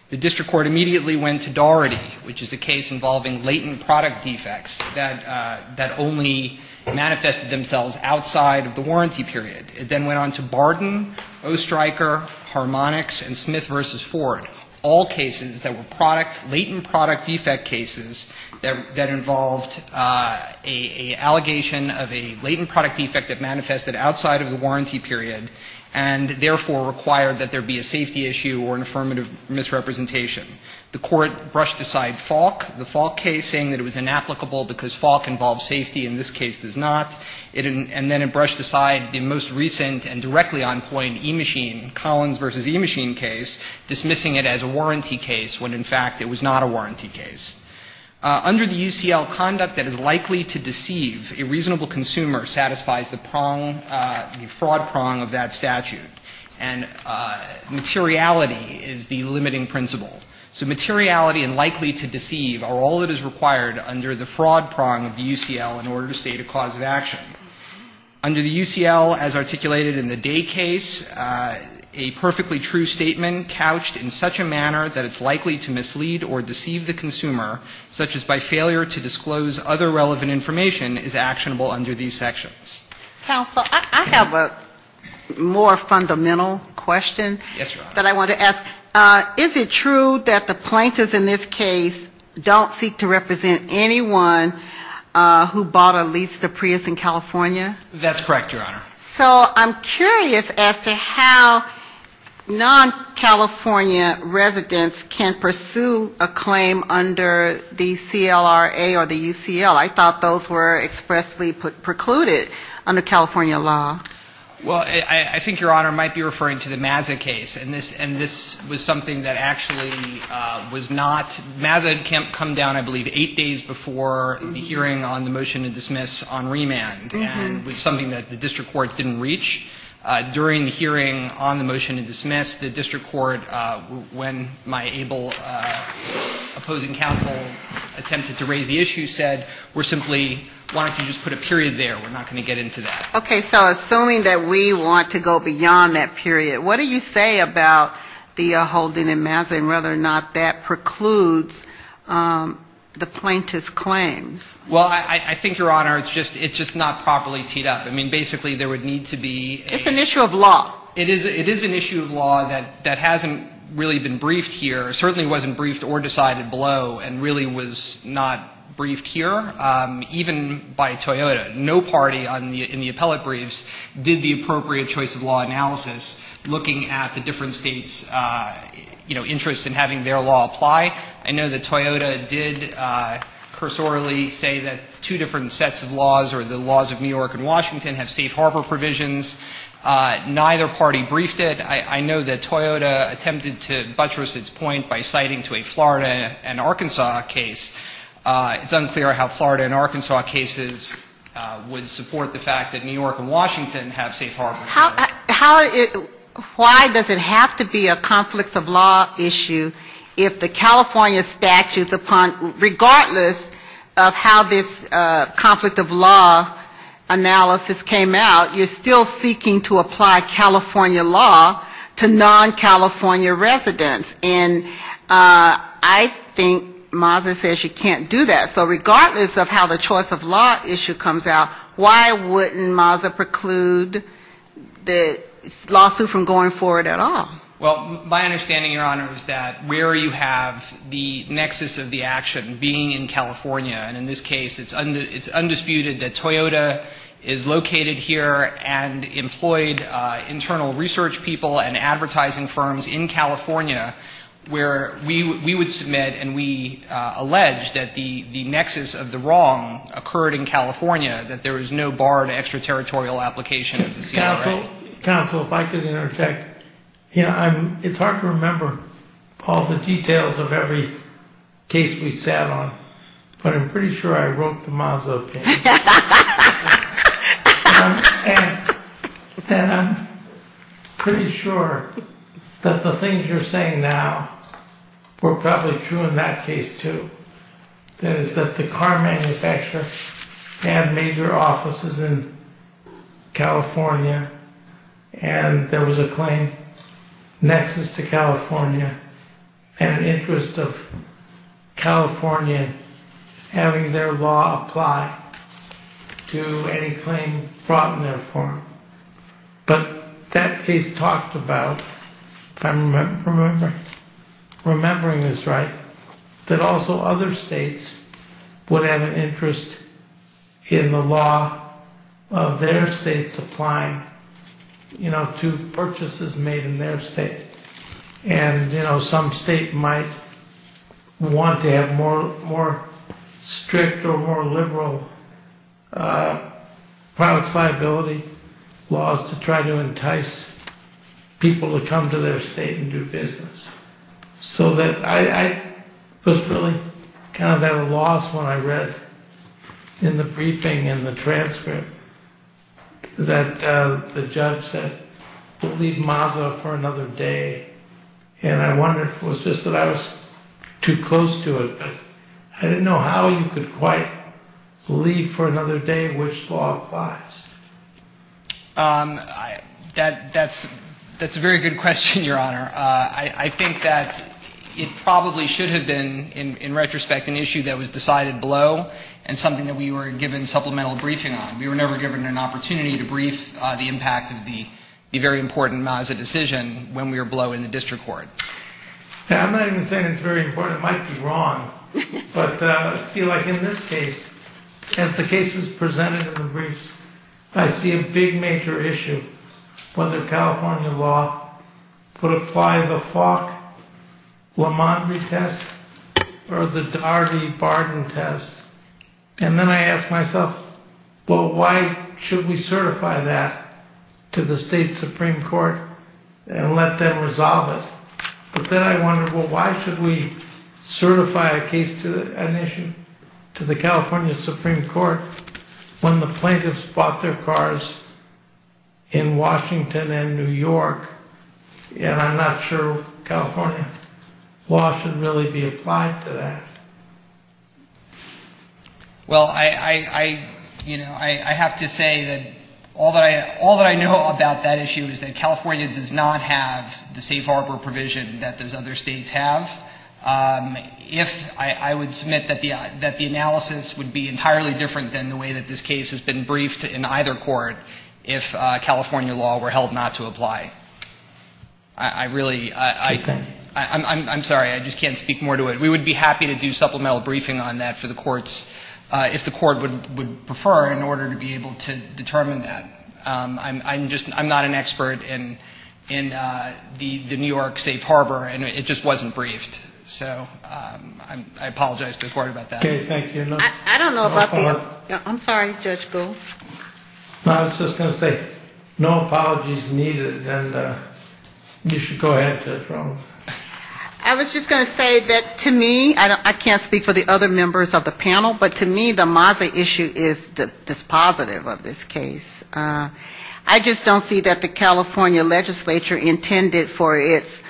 The district court immediately went to Doherty, which is a case involving latent product defects that only manifested themselves outside of the warranty period. It then went on to Barden, O-Striker, Harmonix, and Smith v. Ford. All cases that were latent product defect cases that involved an allegation of a latent product defect that manifested outside of the warranty period and therefore required that there be a safety issue or an affirmative misrepresentation. The court brushed aside Falk, the Falk case, saying that it was inapplicable because Falk involves safety and this case does not. And then it brushed aside the most recent and directly on point E-Machine, Collins v. E-Machine case, dismissing it as a warranty case when in fact it was not a warranty case. Under the UCL, conduct that is likely to deceive a reasonable consumer satisfies the prong, the fraud prong of that statute. And materiality is the limiting principle. So materiality and likely to deceive are all that is required under the fraud prong of the UCL in order to state a cause of action. Under the UCL, as articulated in the Day case, a perfectly true statement couched in such a manner that it's likely to mislead or deceive the consumer, such as by failure to disclose other relevant information, is actionable under these sections. Counsel, I have a more fundamental question that I want to ask. Is it true that the plaintiffs in this case don't seek to represent anyone who bought or leased a Prius in California? That's correct, Your Honor. So I'm curious as to how non-California residents can pursue a claim under the CLRA or the UCL. I thought those were expressly precluded under California law. Well, I think, Your Honor, I might be referring to the Mazda case, and this was something that actually was not – Mazda had come down, I believe, eight days before the hearing on the motion to dismiss on remand, and it was something that the district court didn't reach. During the hearing on the motion to dismiss, the district court, when my able opposing counsel attempted to raise the issue, said, we're simply wanting to just put a period there. We're not going to get into that. Okay, so assuming that we want to go beyond that period, what do you say about the holding in Mazda and whether or not that precludes the plaintiff's claims? Well, I think, Your Honor, it's just not properly teed up. I mean, basically, there would need to be – It's an issue of law. It is an issue of law that hasn't really been briefed here, certainly wasn't briefed or decided below, and really was not briefed here, even by Toyota. No party in the appellate briefs did the appropriate choice of law analysis, looking at the different states' interest in having their law apply. I know that Toyota did cursorily say that two different sets of laws, or the laws of New York and Washington, have safe harbor provisions. Neither party briefed it. I know that Toyota attempted to buttress its point by citing to a Florida and Arkansas case. It's unfair how Florida and Arkansas cases would support the fact that New York and Washington have safe harbor provisions. Why does it have to be a conflict of law issue if the California statute, regardless of how this conflict of law analysis came out, you're still seeking to apply California law to non-California residents? I think Mazda says you can't do that. So regardless of how the choice of law issue comes out, why wouldn't Mazda preclude the lawsuit from going forward at all? Well, my understanding, Your Honor, is that where you have the nexus of the action being in California, and in this case it's undisputed that Toyota is located here and employed internal research people and advertising firms in California where we would submit and we allege that the nexus of the wrong occurred in California, that there was no barred extraterritorial application. Counsel, if I could interject, it's hard to remember all the details of every case we sat on, but I'm pretty sure I wrote the Mazda case. And I'm pretty sure that the things you're saying now were probably true in that case, too. The car manufacturer had major offices in California, and there was a claim nexus to California and had an interest of California having their law apply to any claim brought in their form. But that case talked about, if I'm remembering this right, that also other states would have an interest in the law of their state supplying, you know, to purchases made in their state. And, you know, some state might want to have more strict or more liberal product liability laws to try to entice people to come to their state and do business. So I was really kind of at a loss when I read in the briefing and the transcript that the judge said, leave Mazda for another day. And I wonder if it was just that I was too close to it, but I didn't know how you could quite leave for another day and wish to go out of class. That's a very good question, Your Honor. I think that it probably should have been, in retrospect, an issue that was decided below and something that we were given supplemental briefing on. We were never given an opportunity to brief the impact of the very important Mazda decision when we were below in the district court. Yeah, I'm not even saying it's very important. It might be wrong. But I feel like in this case, as the case is presented in the briefs, I see a big major issue whether California law would apply the Falk-Lamadry test or the Darby-Barton test. And then I ask myself, well, why should we certify that to the state Supreme Court and let them resolve it? But then I wonder, well, why should we certify a case to the California Supreme Court when the plaintiffs bought their cars in Washington and New York, and I'm not sure California law should really be applied to that. Well, I have to say that all that I know about that issue is that California does not have the safe harbor provision that those other states have. I would submit that the analysis would be entirely different than the way that this case has been briefed in either court if California law were held not to apply. I really, I'm sorry, I just can't speak more to it. We would be happy to do supplemental briefing on that for the courts if the court would prefer in order to be able to determine that. I'm just, I'm not an expert in the New York safe harbor, and it just wasn't briefed. So I apologize. Don't worry about that. I don't know about that. I'm sorry, Judge Gould. I was just going to say, no apologies needed. You should go ahead, Judge Gould. I was just going to say that to me, I can't speak for the other members of the panel, but to me the Maza issue is the positive of this case. I just don't see that the California legislature intended for its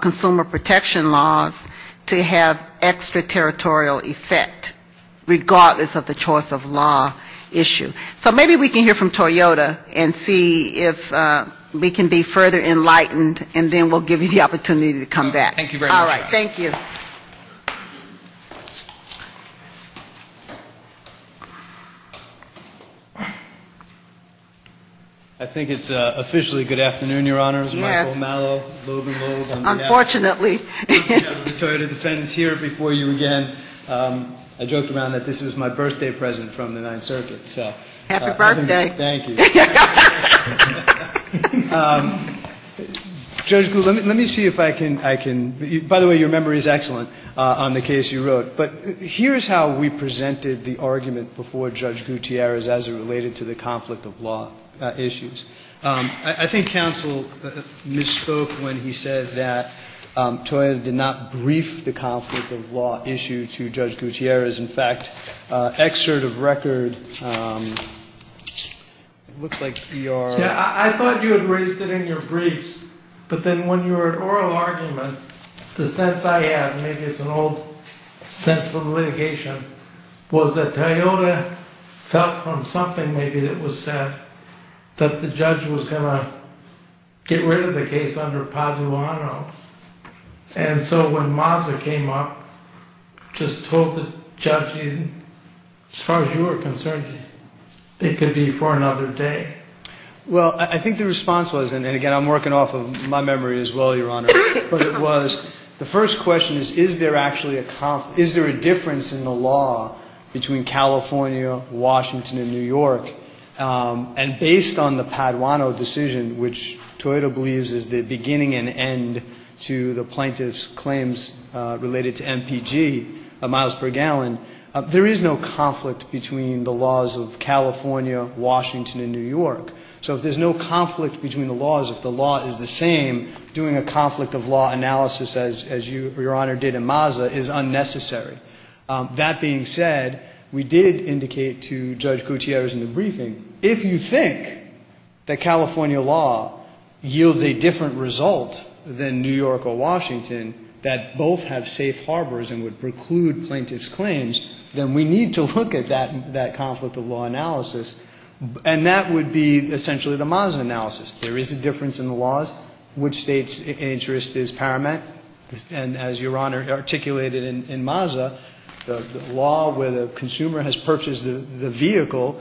consumer protection laws to have extraterritorial effect regardless of the choice of law issue. So maybe we can hear from Toyota and see if we can be further enlightened, and then we'll give you the opportunity to come back. Thank you very much. All right. Thank you. I think it's officially good afternoon, Your Honors. Yes. Michael Malo, Logan Rose. Unfortunately. I'm sorry to defend here before you again. I joked around that this is my birthday present from the Ninth Circuit. Happy birthday. Thank you. Judge Gould, let me see if I can. By the way, your memory is excellent on the case you wrote. But here's how we presented the argument before Judge Gutierrez as it related to the conflict of law issues. I think counsel misspoke when he said that Toyota did not brief the conflict of law issue to Judge Gutierrez. In fact, excerpt of record, it looks like you are. I thought you had raised it in your briefs. But then when you were at oral argument, the sense I had, maybe it's an old sense of litigation, was that Toyota felt from something maybe that was said that the judge was going to get rid of the case under Pazulano. And so when Mazza came up, just told the judge, as far as you were concerned, it could be for another day. Well, I think the response was, and again, I'm working off of my memory as well, Your Honor, the first question is, is there a difference in the law between California, Washington, and New York? And based on the Pazulano decision, which Toyota believes is the beginning and end to the plaintiff's claims related to MPG, amounts per gallon, there is no conflict between the laws of California, Washington, and New York. So if there's no conflict between the laws, if the law is the same, doing a conflict of law analysis, as Your Honor did in Mazza, is unnecessary. That being said, we did indicate to Judge Gutierrez in the briefing, if you think that California law yields a different result than New York or Washington, that both have safe harbors and would preclude plaintiff's claims, then we need to look at that conflict of law analysis. And that would be essentially the Mazza analysis. There is a difference in the laws, which state's interest is paramount. And as Your Honor articulated in Mazza, the law where the consumer has purchased the vehicle,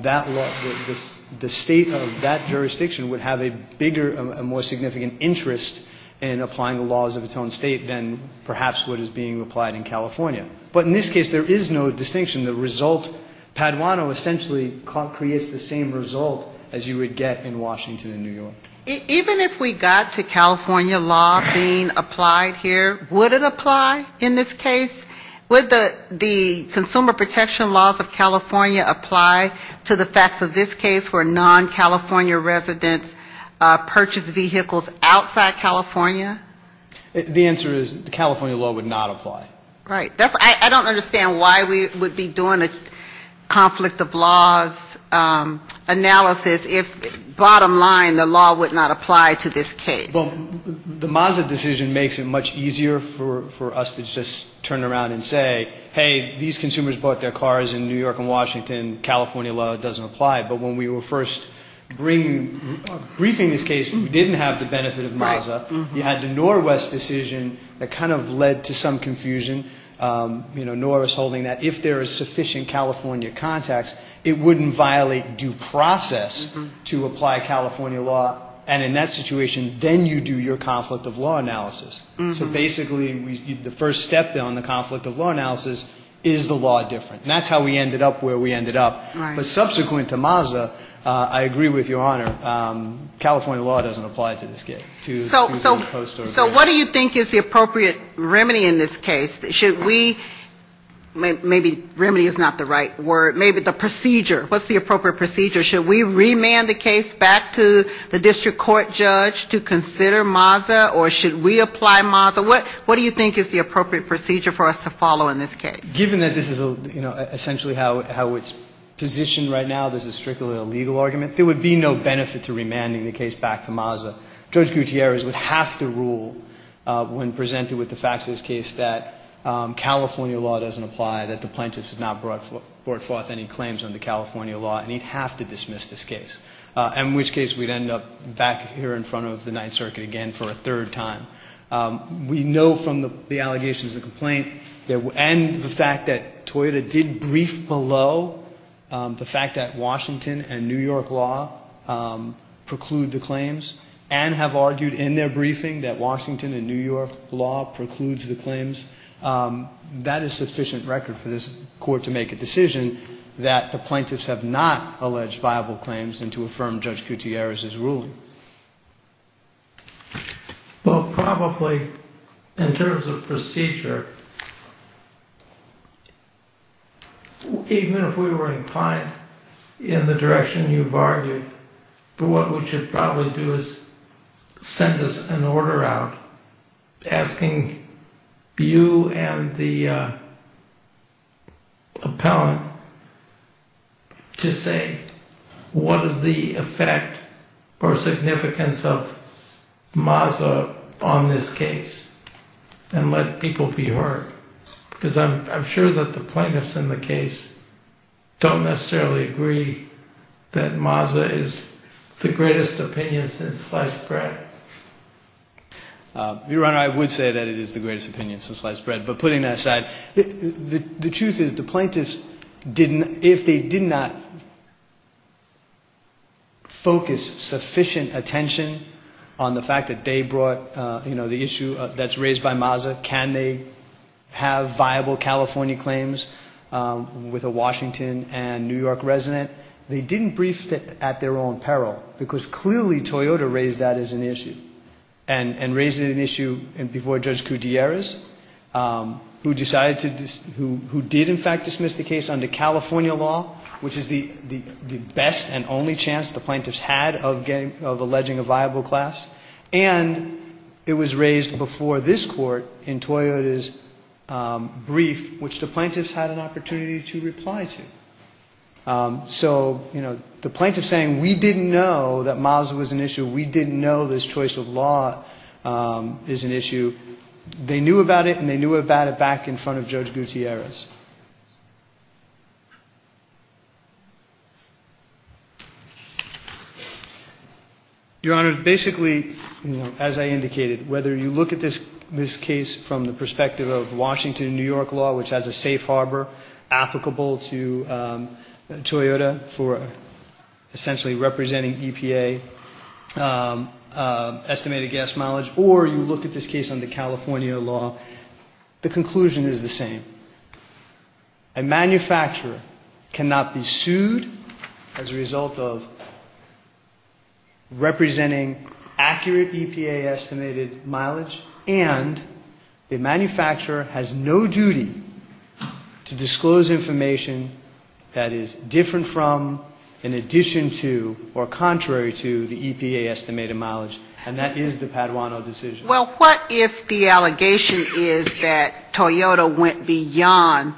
the state of that jurisdiction would have a bigger and more significant interest in applying the laws of its own state than perhaps what is being applied in California. But in this case, there is no distinction. The result, Paduano essentially creates the same result as you would get in Washington and New York. Even if we got to California law being applied here, would it apply in this case? Would the consumer protection laws of California apply to the facts of this case for non-California resident purchase vehicles outside California? The answer is California law would not apply. I don't understand why we would be doing a conflict of laws analysis if bottom line the law would not apply to this case. The Mazza decision makes it much easier for us to just turn around and say, hey, these consumers bought their cars in New York and Washington. California law doesn't apply. But when we were first briefing this case, we didn't have the benefit of Mazza. We had the Norwest decision that kind of led to some confusion. You know, Norris holding that if there is sufficient California contacts, it wouldn't violate due process to apply California law. And in that situation, then you do your conflict of law analysis. So basically, the first step then on the conflict of law analysis is the law difference. And that's how we ended up where we ended up. But subsequent to Mazza, I agree with Your Honor, California law doesn't apply to this case. So what do you think is the appropriate remedy in this case? Should we, maybe remedy is not the right word, maybe the procedure. What's the appropriate procedure? Should we remand the case back to the district court judge to consider Mazza? Or should we apply Mazza? What do you think is the appropriate procedure for us to follow in this case? Given that this is essentially how it's positioned right now, this is strictly a legal argument, there would be no benefit to remanding the case back to Mazza. Judge Gutierrez would have to rule when presented with the facts of this case that California law doesn't apply, that the plaintiffs have not brought forth any claims under California law, and he'd have to dismiss this case. In which case, we'd end up back here in front of the Ninth Circuit again for a third time. We know from the allegations and complaint, and the fact that Toyota did brief below the fact that Washington and New York law preclude the claims, and have argued in their briefing that Washington and New York law precludes the claims, that is sufficient record for this court to make a decision that the plaintiffs have not alleged viable claims and to affirm Judge Gutierrez's rule. Well, probably, in terms of procedure, even if we were inclined in the direction you've argued, what we should probably do is send an order out asking you and the appellant to say what is the effect or significance of Mazza on this case, and let people be heard. Because I'm sure that the plaintiffs in the case don't necessarily agree that Mazza is the greatest opinion since sliced bread. Your Honor, I would say that it is the greatest opinion since sliced bread, but putting that aside, the truth is the plaintiffs, if they did not focus sufficient attention on the fact that they brought the issue that's raised by Mazza, can they have viable California claims with a Washington and New York resident, they didn't brief at their own peril, because clearly Toyota raised that as an issue, and raised it as an issue before Judge Gutierrez, who did in fact dismiss the case under California law, which is the best and only chance the plaintiffs had of alleging a viable class, and it was raised before this court in Toyota's brief, which the plaintiffs had an opportunity to reply to. So, you know, the plaintiffs saying we didn't know that Mazza was an issue, we didn't know this choice of law is an issue, they knew about it and they knew about it back in front of Judge Gutierrez. Your Honor, basically, as I indicated, whether you look at this case from the perspective of Washington and New York law, which has a safe harbor applicable to Toyota for essentially representing EPA estimated gas mileage, or you look at this case under California law, the conclusion is the same. A manufacturer cannot be sued as a result of representing accurate EPA estimated mileage, and a manufacturer has no duty to disclose information that is different from, in addition to, or contrary to the EPA estimated mileage, and that is the Paduano decision. Well, what if the allegation is that Toyota went beyond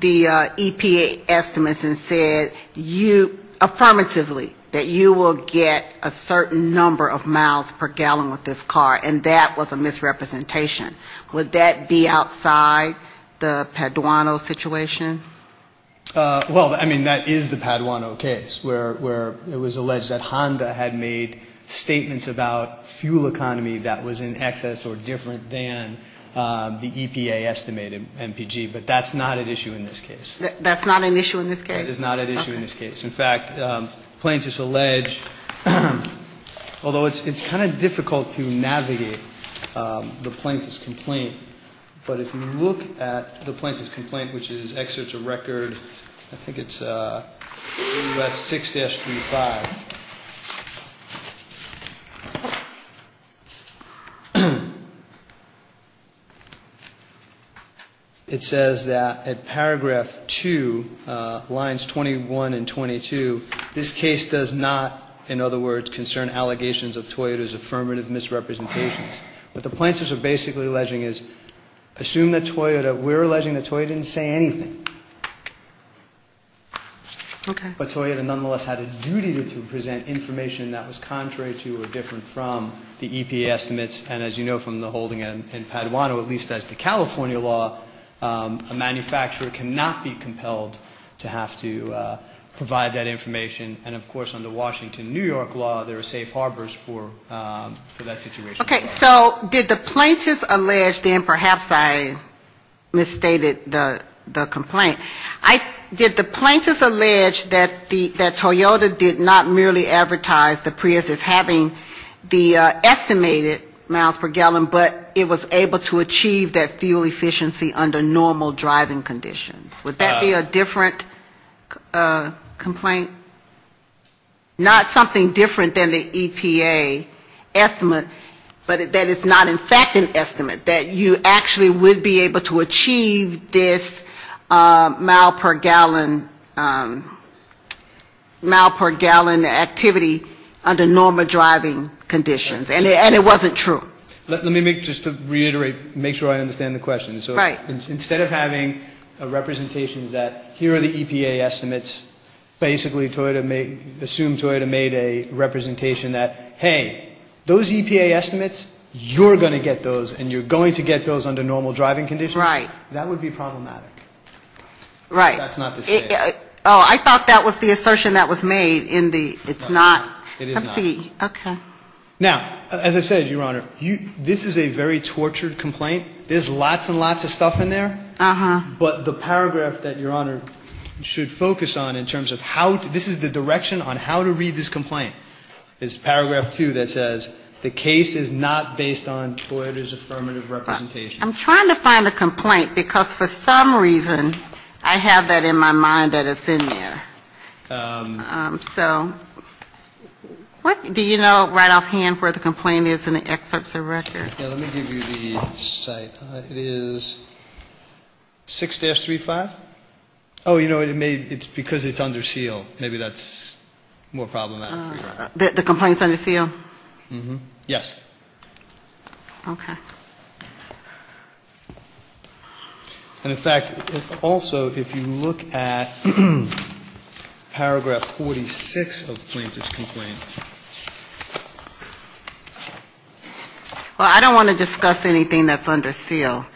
the EPA estimates and said you, affirmatively, that you will get a certain number of miles per gallon with this car, and that was a misrepresentation. Would that be outside the Paduano situation? Well, I mean, that is the Paduano case where it was alleged that Honda had made statements about fuel economy that was in excess or different than the EPA estimated MPG, but that's not an issue in this case. That's not an issue in this case? That is not an issue in this case. In fact, plaintiffs allege, although it's kind of difficult to navigate the plaintiff's complaint, but if you look at the plaintiff's complaint, which is Exerts of Record, I think it's 6-35. It says that at paragraph 2, lines 21 and 22, this case does not, in other words, concern allegations of Toyota's affirmative misrepresentations. What the plaintiffs are basically alleging is, assume that Toyota, we're alleging that Toyota didn't say anything, but Toyota nonetheless had a duty to present information that was contrary to or different from the EPA estimates, and as you know from the holding in Paduano, at least as the California law, a manufacturer cannot be compelled to have to provide that information, and of course, under Washington, New York law, there are safe harbors for that situation. Okay, so did the plaintiffs allege, then perhaps I misstated the complaint. Did the plaintiffs allege that Toyota did not merely advertise the Prius as having the estimated miles per gallon, but it was able to achieve that fuel efficiency under normal driving conditions? Would that be a different complaint? Not something different than the EPA estimates, but that it's not in fact an estimate, that you actually would be able to achieve this mile per gallon activity under normal driving conditions, and it wasn't true. Let me make, just to reiterate, make sure I understand the question. So instead of having a representation that here are the EPA estimates, basically Toyota made, assumed Toyota made a representation that, hey, those EPA estimates, you're going to get those, and you're going to get those under normal driving conditions. Right. That would be problematic. Right. That's not the case. Oh, I thought that was the assertion that was made in the, it's not. It is not. Okay. Now, as I said, Your Honor, this is a very tortured complaint. There's lots and lots of stuff in there. Uh-huh. But the paragraph that Your Honor should focus on in terms of how, this is the direction on how to read this complaint, is paragraph two that says the case is not based on Toyota's affirmative representation. I'm trying to find a complaint because for some reason I have that in my mind that it's in there. So what, do you know right offhand where the complaint is in the excerpts of the record? Let me give you the site. It is 6-35? Oh, you know, it's because it's under SEAL. Maybe that's more problematic. The complaint's under SEAL? Uh-huh. Yes. Okay. And in fact, it's also, if you look at paragraph 46 of Plaintiff's complaint. Well, I don't want to discuss anything that's under SEAL.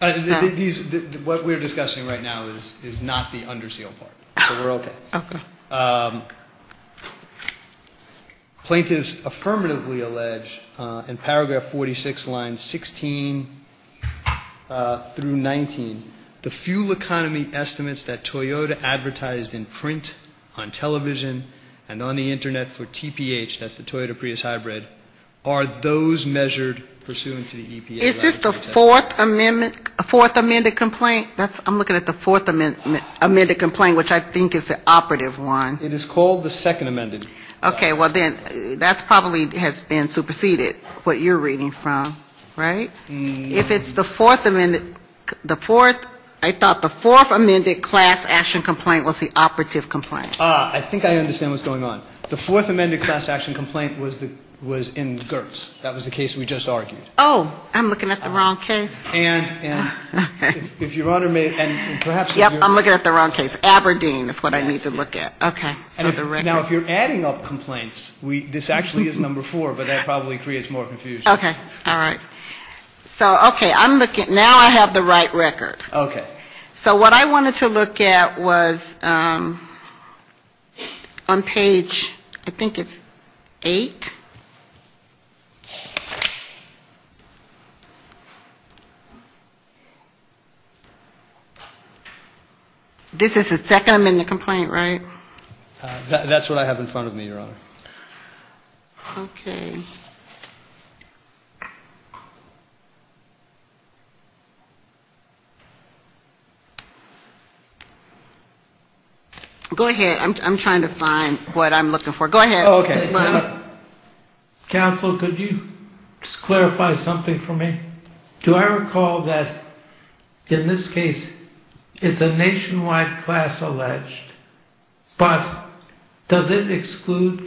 What we're discussing right now is not the under SEAL part. Okay. Plaintiff's affirmatively alleged in paragraph 46, lines 16 through 19, the fuel economy estimates that Toyota advertised in print on television and on the Internet for TPH, that's the Toyota Prius Hybrid, are those measured pursuant to the EPA? Is this the Fourth Amendment complaint? I'm looking at the Fourth Amendment complaint, which I think is the operative one. It is called the Second Amendment. Okay. Well, then that probably has been superseded, what you're reading from, right? If it's the Fourth Amendment, I thought the Fourth Amendment class action complaint was the operative complaint. I think I understand what's going on. The Fourth Amendment class action complaint was in GERTS. That was the case we just argued. Oh, I'm looking at the wrong case. If Your Honor may, and perhaps- Yeah, I'm looking at the wrong case. Aberdeen is what I need to look at. Okay. Now, if you're adding up complaints, this actually is number four, but that probably creates more confusion. Okay. All right. So, okay. Now I have the right record. Okay. So, what I wanted to look at was on page, I think it's eight. This is the second in the complaint, right? That's what I have in front of me, Your Honor. Okay. Go ahead. I'm trying to find what I'm looking for. Go ahead. Oh, okay. Counsel, could you clarify something for me? Do I recall that, in this case, it's a nationwide class alleged, but does it exclude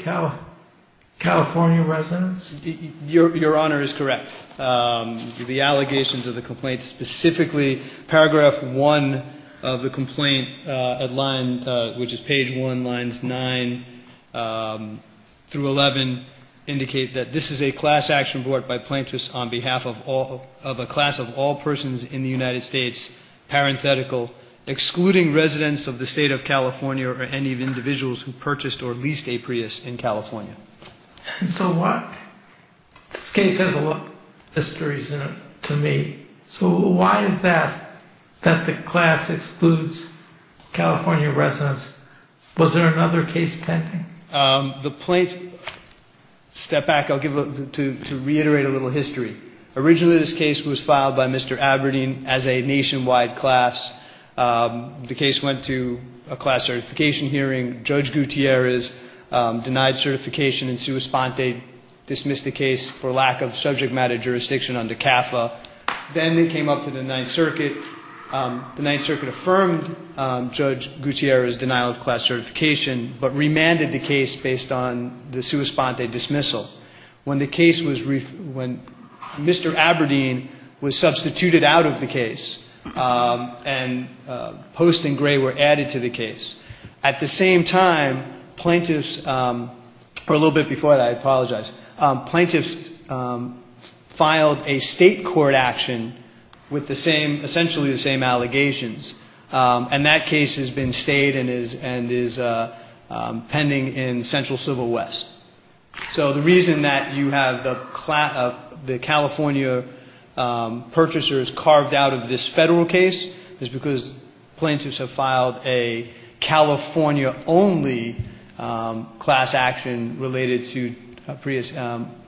California residents? Your Honor is correct. The allegations of the complaint specifically, paragraph one of the complaint at line, which is page one, lines nine through 11, indicate that this is a class action brought by plaintiffs on behalf of a class of all persons in the United States, parenthetical, excluding residents of the state of California or any individuals who purchased or leased a Prius in California. So, this case has a lot of histories in it to me. So, why is that, that the class excludes California residents? Was there another case pending? The plaintiff, step back, I'll give, to reiterate a little history. Originally, this case was filed by Mr. Aberdeen as a nationwide class. The case went to a class certification hearing. Judge Gutierrez denied certification in sua sponte, dismissed the case for lack of subject matter jurisdiction under CAFA. Then, it came up to the Ninth Circuit. The Ninth Circuit affirmed Judge Gutierrez' denial of class certification, but remanded the case based on the sua sponte dismissal. When the case was, when Mr. Aberdeen was substituted out of the case and Post and Gray were added to the case, at the same time, plaintiffs, or a little bit before that, I apologize, plaintiffs filed a state court action with the same, essentially the same allegations, and that case has been stayed and is pending in Central Civil West. So, the reason that you have the California purchasers carved out of this federal case is because plaintiffs have filed a state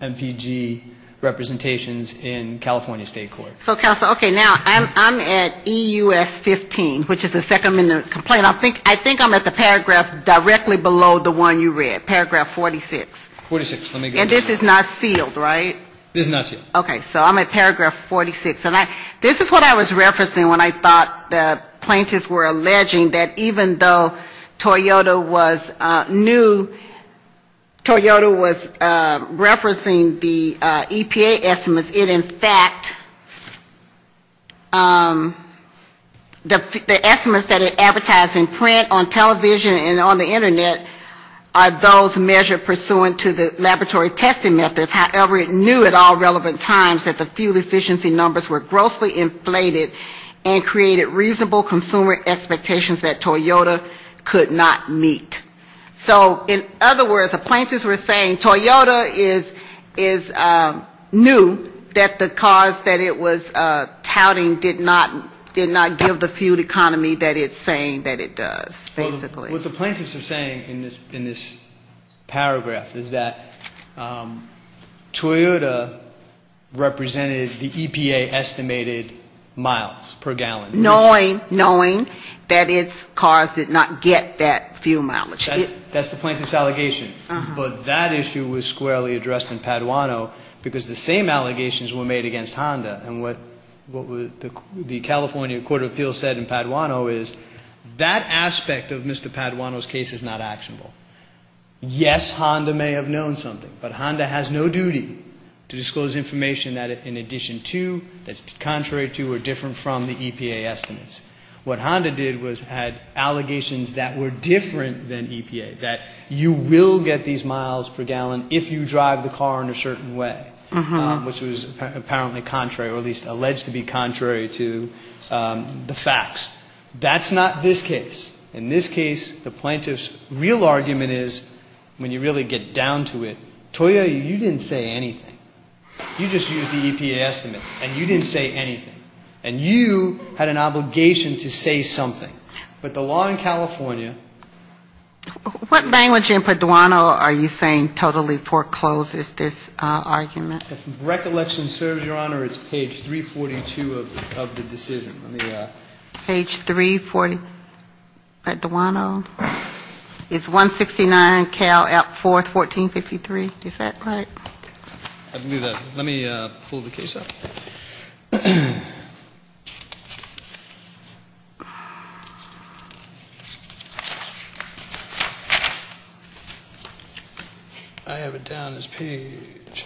MPG representations in California state court. So, Counselor, okay, now I'm at EUS 15, which is the second minute complaint. I think I'm at the paragraph directly below the one you read, paragraph 46. And this is not sealed, right? This is not sealed. Okay, so I'm at paragraph 46, and this is what I was referencing when I thought the plaintiffs were alleging that even though Toyota was new, Toyota was referencing the EPA estimates, it in fact, the estimates that are advertised in print, on television, and on the Internet, are those measured pursuant to the laboratory testing methods. However, it knew at all relevant times that the fuel efficiency numbers were grossly inflated and created reasonable consumer expectations that Toyota could not meet. So, in other words, the plaintiffs were saying Toyota is new, that the cars that it was touting did not give the fuel economy that it's saying that it does, basically. What the plaintiffs are saying in this paragraph is that Toyota represented the EPA estimated miles per gallon. Knowing that its cars did not get that fuel mileage. That's the plaintiff's allegation. But that issue was squarely addressed in Paduano because the same allegations were made against Honda. And what the California Court of Appeals said in Paduano is that aspect of Mr. Paduano's case is not actionable. Yes, Honda may have known something, but Honda has no duty to disclose information that in addition to, that's contrary to, or different from the EPA estimates. What Honda did was had allegations that were different than EPA, that you will get these miles per gallon if you drive the car in a certain way, which was apparently contrary, or at least alleged to be contrary to the facts. That's not this case. In this case, the plaintiff's real argument is, when you really get down to it, Toyota, you didn't say anything. You just used the EPA estimates, and you didn't say anything. And you had an obligation to say something. But the law in California... What language in Paduano are you saying totally forecloses this argument? If recollection serves, Your Honor, it's page 342 of the decision. Page 342, Paduano. It's 169 Cal. Act 4, 1453. Is that right? I believe that. Let me pull the case up. I have it down as page...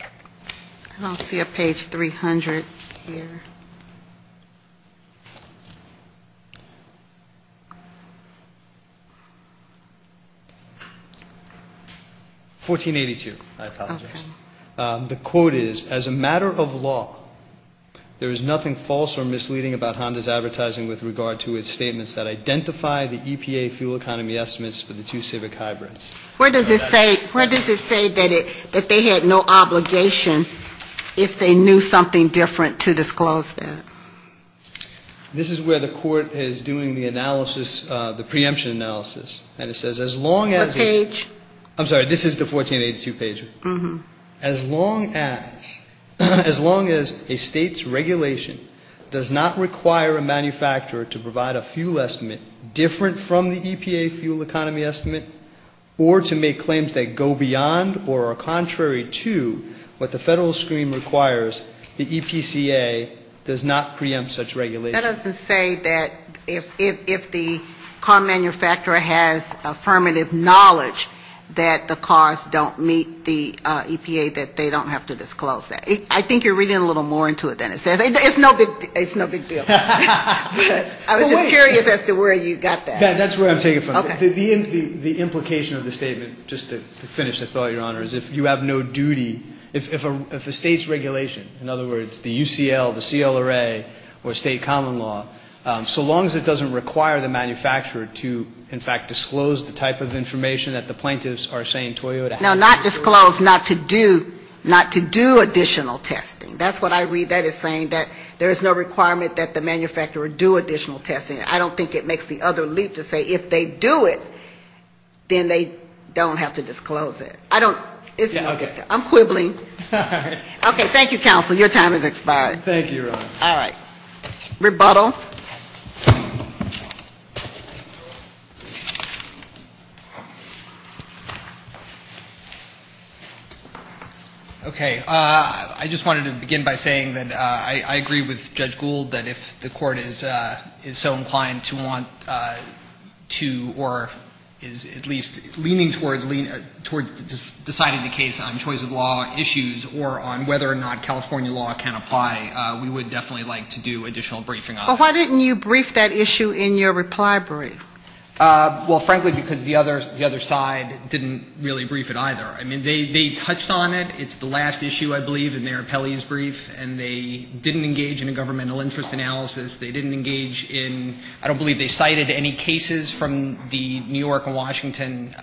I don't see a page 300 here. 1482. I apologize. The quote is, as a matter of law, there is nothing false or misleading about Honda's advertising with regard to its statements that identify the EPA fuel economy estimates for the two civic hybrids. Where does it say that they had no obligation if they knew something different to disclose that? This is where the court is doing the analysis, the preemption analysis. What page? I'm sorry. This is the 1482 page. As long as a state's regulation does not require a manufacturer to provide a fuel estimate different from the EPA fuel economy estimate or to make claims that go beyond or are contrary to what the federal scheme requires, the EPCA does not preempt such regulation. That doesn't say that if the car manufacturer has affirmative knowledge that the cars don't meet the EPA, that they don't have to disclose that. I think you're reading a little more into it than it says. It's no big deal. I was just curious as to where you got that. That's where I'm taking it from. The implication of the statement, just to finish the thought, Your Honor, is if you have no duty, if a state's regulation, in other words, the UCL, the CLRA, or state common law, so long as it doesn't require the manufacturer to, in fact, disclose the type of information that the plaintiffs are saying Toyota has to disclose. No, not disclose, not to do additional testing. That's what I read. That is saying that there is no requirement that the manufacturer do additional testing. I don't think it makes the other leap to say if they do it, then they don't have to disclose it. I'm quibbling. Okay, thank you, counsel. Your time has expired. Thank you, Your Honor. All right. Rebuttal. Okay. I just wanted to begin by saying that I agree with Judge Gould that if the court is so inclined to want to, or is at least leaning toward deciding the case on choice of law issues or on whether or not California law can apply, we would definitely like to do additional briefing on that. But why didn't you brief that issue in your reply brief? Well, frankly, because the other side didn't really brief it either. I mean, they touched on it. It's the last issue, I believe, in their appellee's brief, and they didn't engage in a governmental interest analysis. They didn't engage in, I don't believe they cited any cases from New York and Washington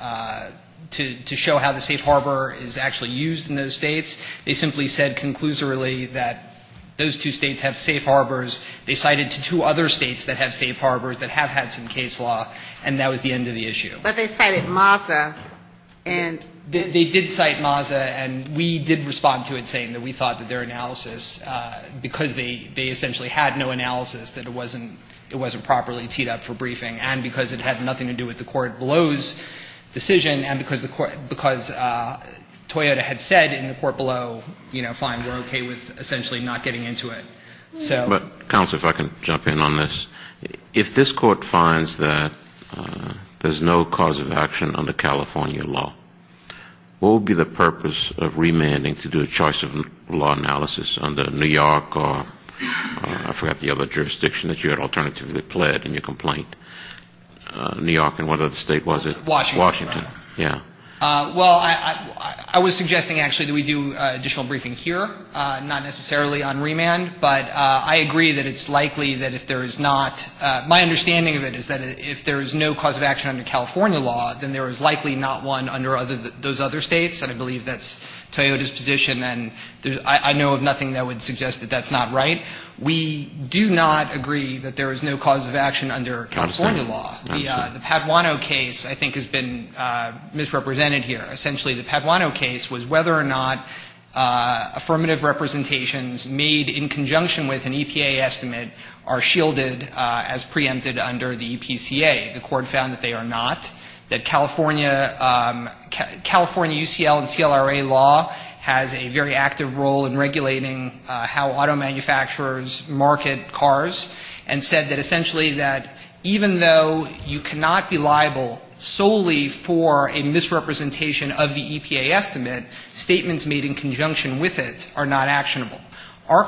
to show how the safe harbor is actually used in those states. They simply said conclusively that those two states have safe harbors. They cited two other states that have safe harbors that have had some case law, and that was the end of the issue. But they cited MASA. They did cite MASA, and we did respond to it saying that we thought that their analysis, because they essentially had no analysis, that it wasn't properly teed up for briefing, and because it had nothing to do with the court below's decision, and because Toyota had said in the court below, you know, fine, they're okay with essentially not getting into it. But, counsel, if I can jump in on this. If this court finds that there's no cause of action under California law, what would be the purpose of remanding to do a choice of law analysis under New York or, I forgot the other jurisdiction, that you had alternatively pled in your complaint? New York, and what other state was it? Washington. Washington, yeah. Well, I was suggesting actually that we do additional briefing here, not necessarily on remand, but I agree that it's likely that if there is not, my understanding of it is that if there is no cause of action under California law, then there is likely not one under those other states, and I believe that's Toyota's tradition, and I know of nothing that would suggest that that's not right. We do not agree that there is no cause of action under California law. The Paduano case, I think, has been misrepresented here. Essentially, the Paduano case was whether or not affirmative representations made in conjunction with an EPA estimate are shielded as preempted under the EPCA. The court found that they are not. That California UCL and TLRA law has a very active role in regulating how auto manufacturers market cars, and said that essentially that even though you cannot be liable solely for a misrepresentation of the EPA estimate, statements made in conjunction with it are not actionable. Our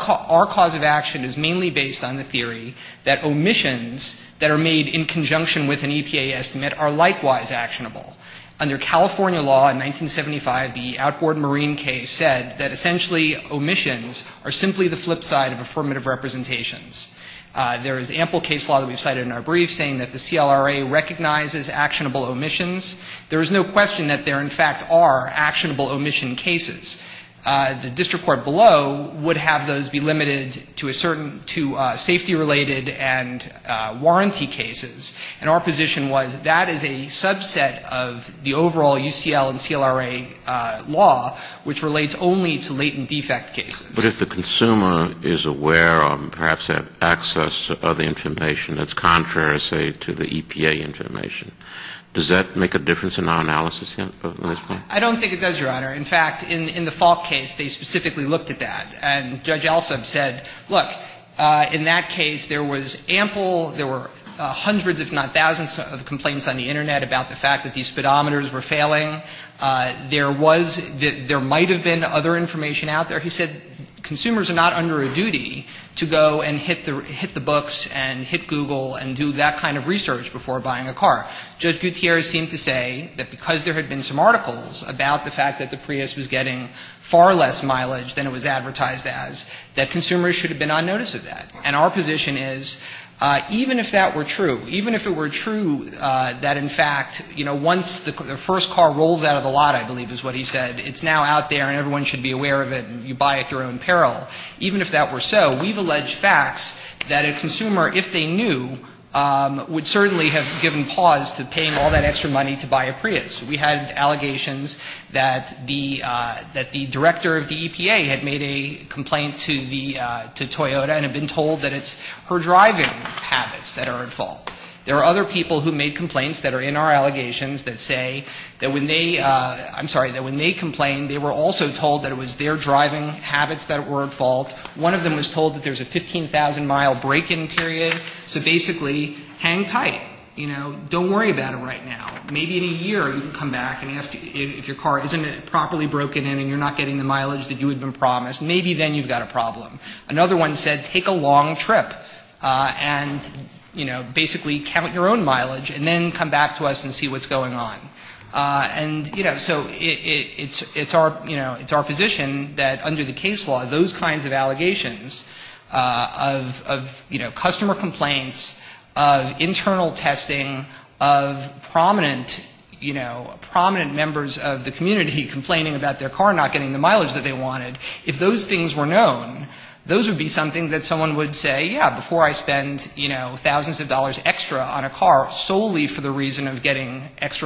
cause of action is mainly based on the theory that omissions that are made in conjunction with an EPA estimate are likewise actionable. Under California law in 1975, the outboard marine case said that essentially omissions are simply the flip side of affirmative representations. There is ample case law that we cited in our brief saying that the CLRA recognizes actionable omissions. There is no question that there, in fact, are actionable omission cases. The district court below would have those be limited to safety-related and warranty cases, and our position was that is a subset of the overall UCL and CLRA law, which relates only to latent defect cases. But if the consumer is aware of, perhaps, that access of the information that is contrary, say, to the EPA information, does that make a difference in our analysis? I don't think it does, Your Honor. In fact, in the Falk case, they specifically looked at that, and Judge Alsup said, look, in that case, there was ample, there were hundreds, if not thousands of complaints on the Internet about the fact that these speedometers were failing. There was, there might have been other information out there. He said consumers are not under a duty to go and hit the books and hit Google and do that kind of research before buying a car. Judge Gutierrez seemed to say that because there had been some articles about the fact that the Prius was getting far less mileage than it was advertised as, that consumers should have been on notice of that. And our position is, even if that were true, even if it were true that, in fact, you know, once the first car rolls out of the lot, I believe is what he said, it's now out there and everyone should be aware of it and you buy it through it in peril, even if that were so, we've alleged facts that a consumer, if they knew, would certainly have given pause to paying all that extra money to buy a Prius. We had allegations that the director of the EPA had made a complaint to Toyota and had been told that it's her driving habits that are at fault. There are other people who made complaints that are in our allegations that say that when they, I'm sorry, that when they complained, they were also told that it was their driving habits that were at fault. One of them was told that there's a 15,000-mile break-in period, so basically, hang tight, you know, don't worry about it right now. Maybe in a year you can come back and ask if your car isn't properly broken in and you're not getting the mileage that you had been promised. Maybe then you've got a problem. Another one said, take a long trip and, you know, basically count your own mileage and then come back to us and see what's going on. And, you know, so it's our, you know, it's our position that under the case law, those kinds of allegations of, you know, customer complaints, of internal testing, of prominent, you know, prominent members of the community complaining about their car not getting the mileage that they wanted, if those things were known, those would be something that someone would say, yeah, before I spend, you know, extra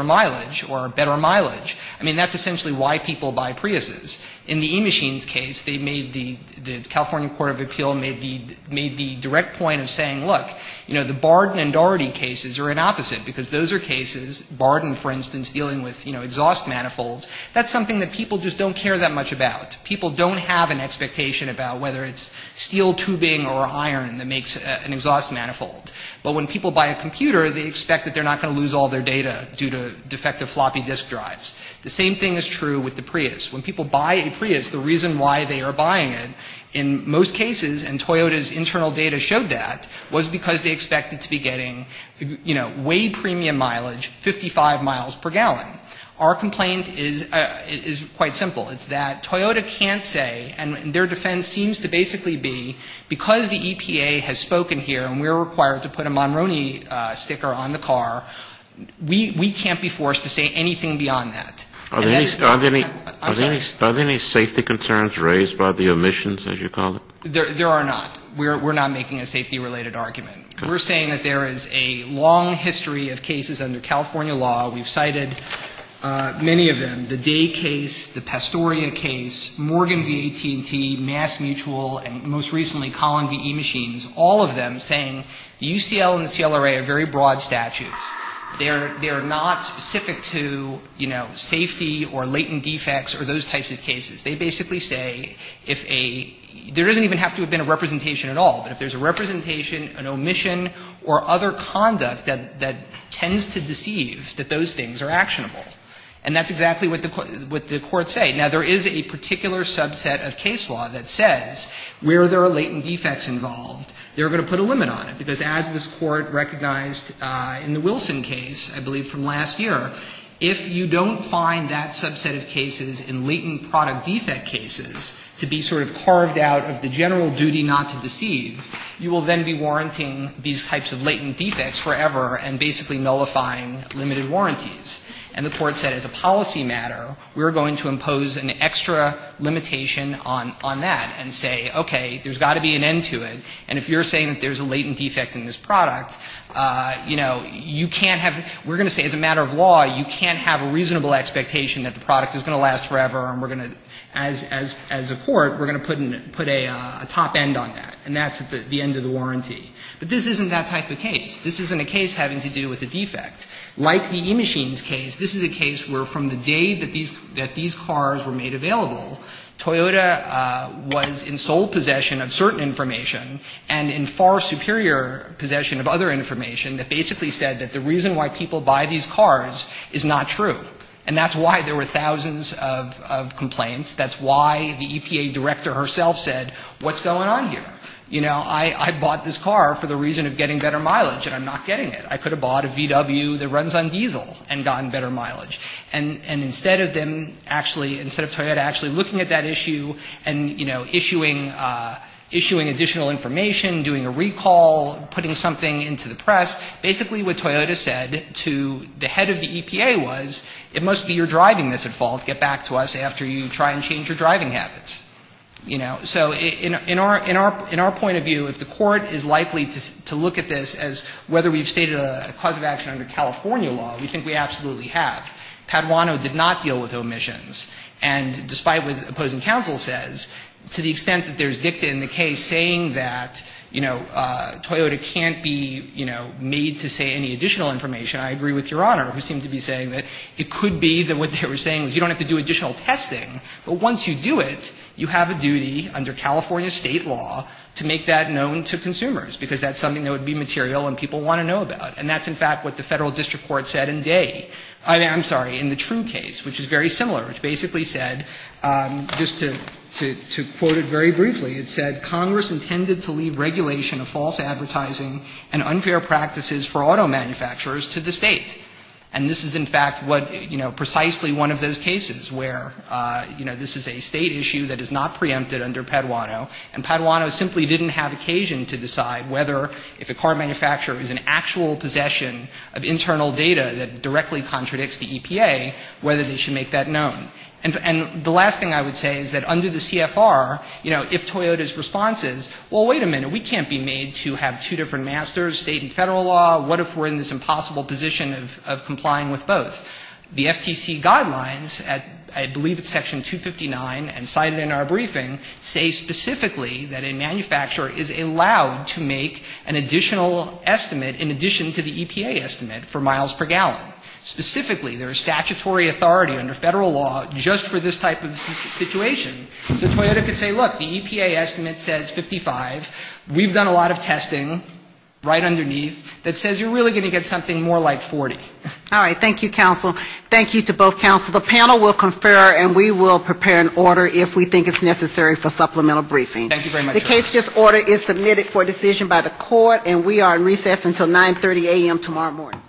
mileage or better mileage. I mean, that's essentially why people buy Priuses. In the eMachines case, they made the, the California Court of Appeal made the, made the direct point of saying, look, you know, the Barden and Daugherty cases are an opposite because those are cases, Barden, for instance, dealing with, you know, exhaust manifolds, that's something that people just don't care that much about. People don't have an expectation about whether it's steel tubing or iron that makes an exhaust manifold. But when people buy a computer, they expect that they're not going to lose all their data due to defective floppy disk drives. The same thing is true with the Prius. When people buy a Prius, the reason why they are buying it, in most cases, and Toyota's internal data showed that, was because they expected to be getting, you know, way premium mileage, 55 miles per gallon. Our complaint is, is quite simple. It's that Toyota can't say, and their defense seems to basically be, because the EPA has spoken here and we're required to put a Monroney sticker on the car, we can't be forced to say anything beyond that. Are there any safety concerns raised by the omissions, as you call it? There are not. We're not making a safety-related argument. We're saying that there is a long history of cases under California law. We've cited many of them, the Day case, the Pastorian case, Morgan v. AT&T, MassMutual, and most recently, Collin v. E-Machines, all of them saying UCL and the CLRA are very broad statutes. They are not specific to, you know, safety or latent defects or those types of cases. They basically say, if a, there doesn't even have to have been a representation at all, but if there's a representation, an omission, or other conduct that tends to deceive, that those things are actionable. And that's exactly what the courts say. Now, there is a particular subset of case law that says, where there are latent defects involved, they're going to put a limit on it. Because as this court recognized in the Wilson case, I believe from last year, if you don't find that subset of cases in latent product defect cases to be sort of carved out of the general duty not to deceive, you will then be warranting these types of latent defects forever and basically nullifying limited warranties. And the court said, as a policy matter, we're going to impose an extra limitation on that and say, okay, there's got to be an end to it. And if you're saying that there's a latent defect in this product, you know, you can't have, we're going to say, as a matter of law, you can't have a reasonable expectation that the product is going to last forever and we're going to, as a court, we're going to put a top end on that. And that's the end of the warranty. But this isn't that type of case. This isn't a case having to do with a defect. Like the eMachines case, this is a case where from the day that these cars were made available, Toyota was in sole possession of certain information and in far superior possession of other information that basically said that the reason why people buy these cars is not true. And that's why there were thousands of complaints. That's why the EPA director herself said, what's going on here? You know, I bought this car for the reason of getting better mileage and I'm not getting it. I could have bought a VW that runs on diesel and gotten better mileage. And instead of them actually, instead of Toyota actually looking at that issue and, you know, issuing additional information, doing a recall, putting something into the press, basically what Toyota said to the head of the EPA was, it must be your driving that's at fault. Get back to us after you try and change your driving habits. You know, so in our point of view, if the court is likely to look at this as whether we've stated a cause of action under California law, we think we absolutely have. Padawano did not deal with omissions. And despite what the opposing counsel says, to the extent that there's dicta in the case saying that, you know, Toyota can't be, you know, made to say any additional information, I agree with Your Honor, who seems to be saying that it could be that what they were saying is you don't have to do additional testing, but once you do it, you have a duty under California state law to make that known to consumers, because that's something that would be material and people want to know about. And that's, in fact, what the federal district court said in the day. I'm sorry, in the Trum case, which is very similar. It basically said, just to quote it very briefly, it said, Congress intended to leave regulation of false advertising and unfair practices for auto manufacturers to the state. And this is, in fact, what, you know, precisely one of those cases where, you know, this is a state issue that is not preempted under Padawano, and Padawano simply didn't have occasion to decide whether, if a car manufacturer is in actual possession of internal data that directly contradicts the EPA, whether they should make that known. And the last thing I would say is that under the CFR, you know, if Toyota's response is, well, wait a minute, we can't be made to have two different masters, state and federal law. What if we're in this impossible position of complying with both? The FTC guidelines, I believe it's section 259 and cited in our briefing, say specifically that a manufacturer is allowed to make an additional estimate in addition to the EPA estimate for miles per gallon. Specifically, there is statutory authority under federal law just for this type of situation. So Toyota could say, look, the EPA estimate says 55. We've done a lot of testing right underneath that says you're really going to get something more like 40. All right. Thank you, counsel. Thank you to both counsel. The panel will confer, and we will prepare an order if we think it's necessary for supplemental briefing. Thank you very much. The case just ordered is submitted for decision by the court, and we are in recess until 9.30 a.m. tomorrow morning.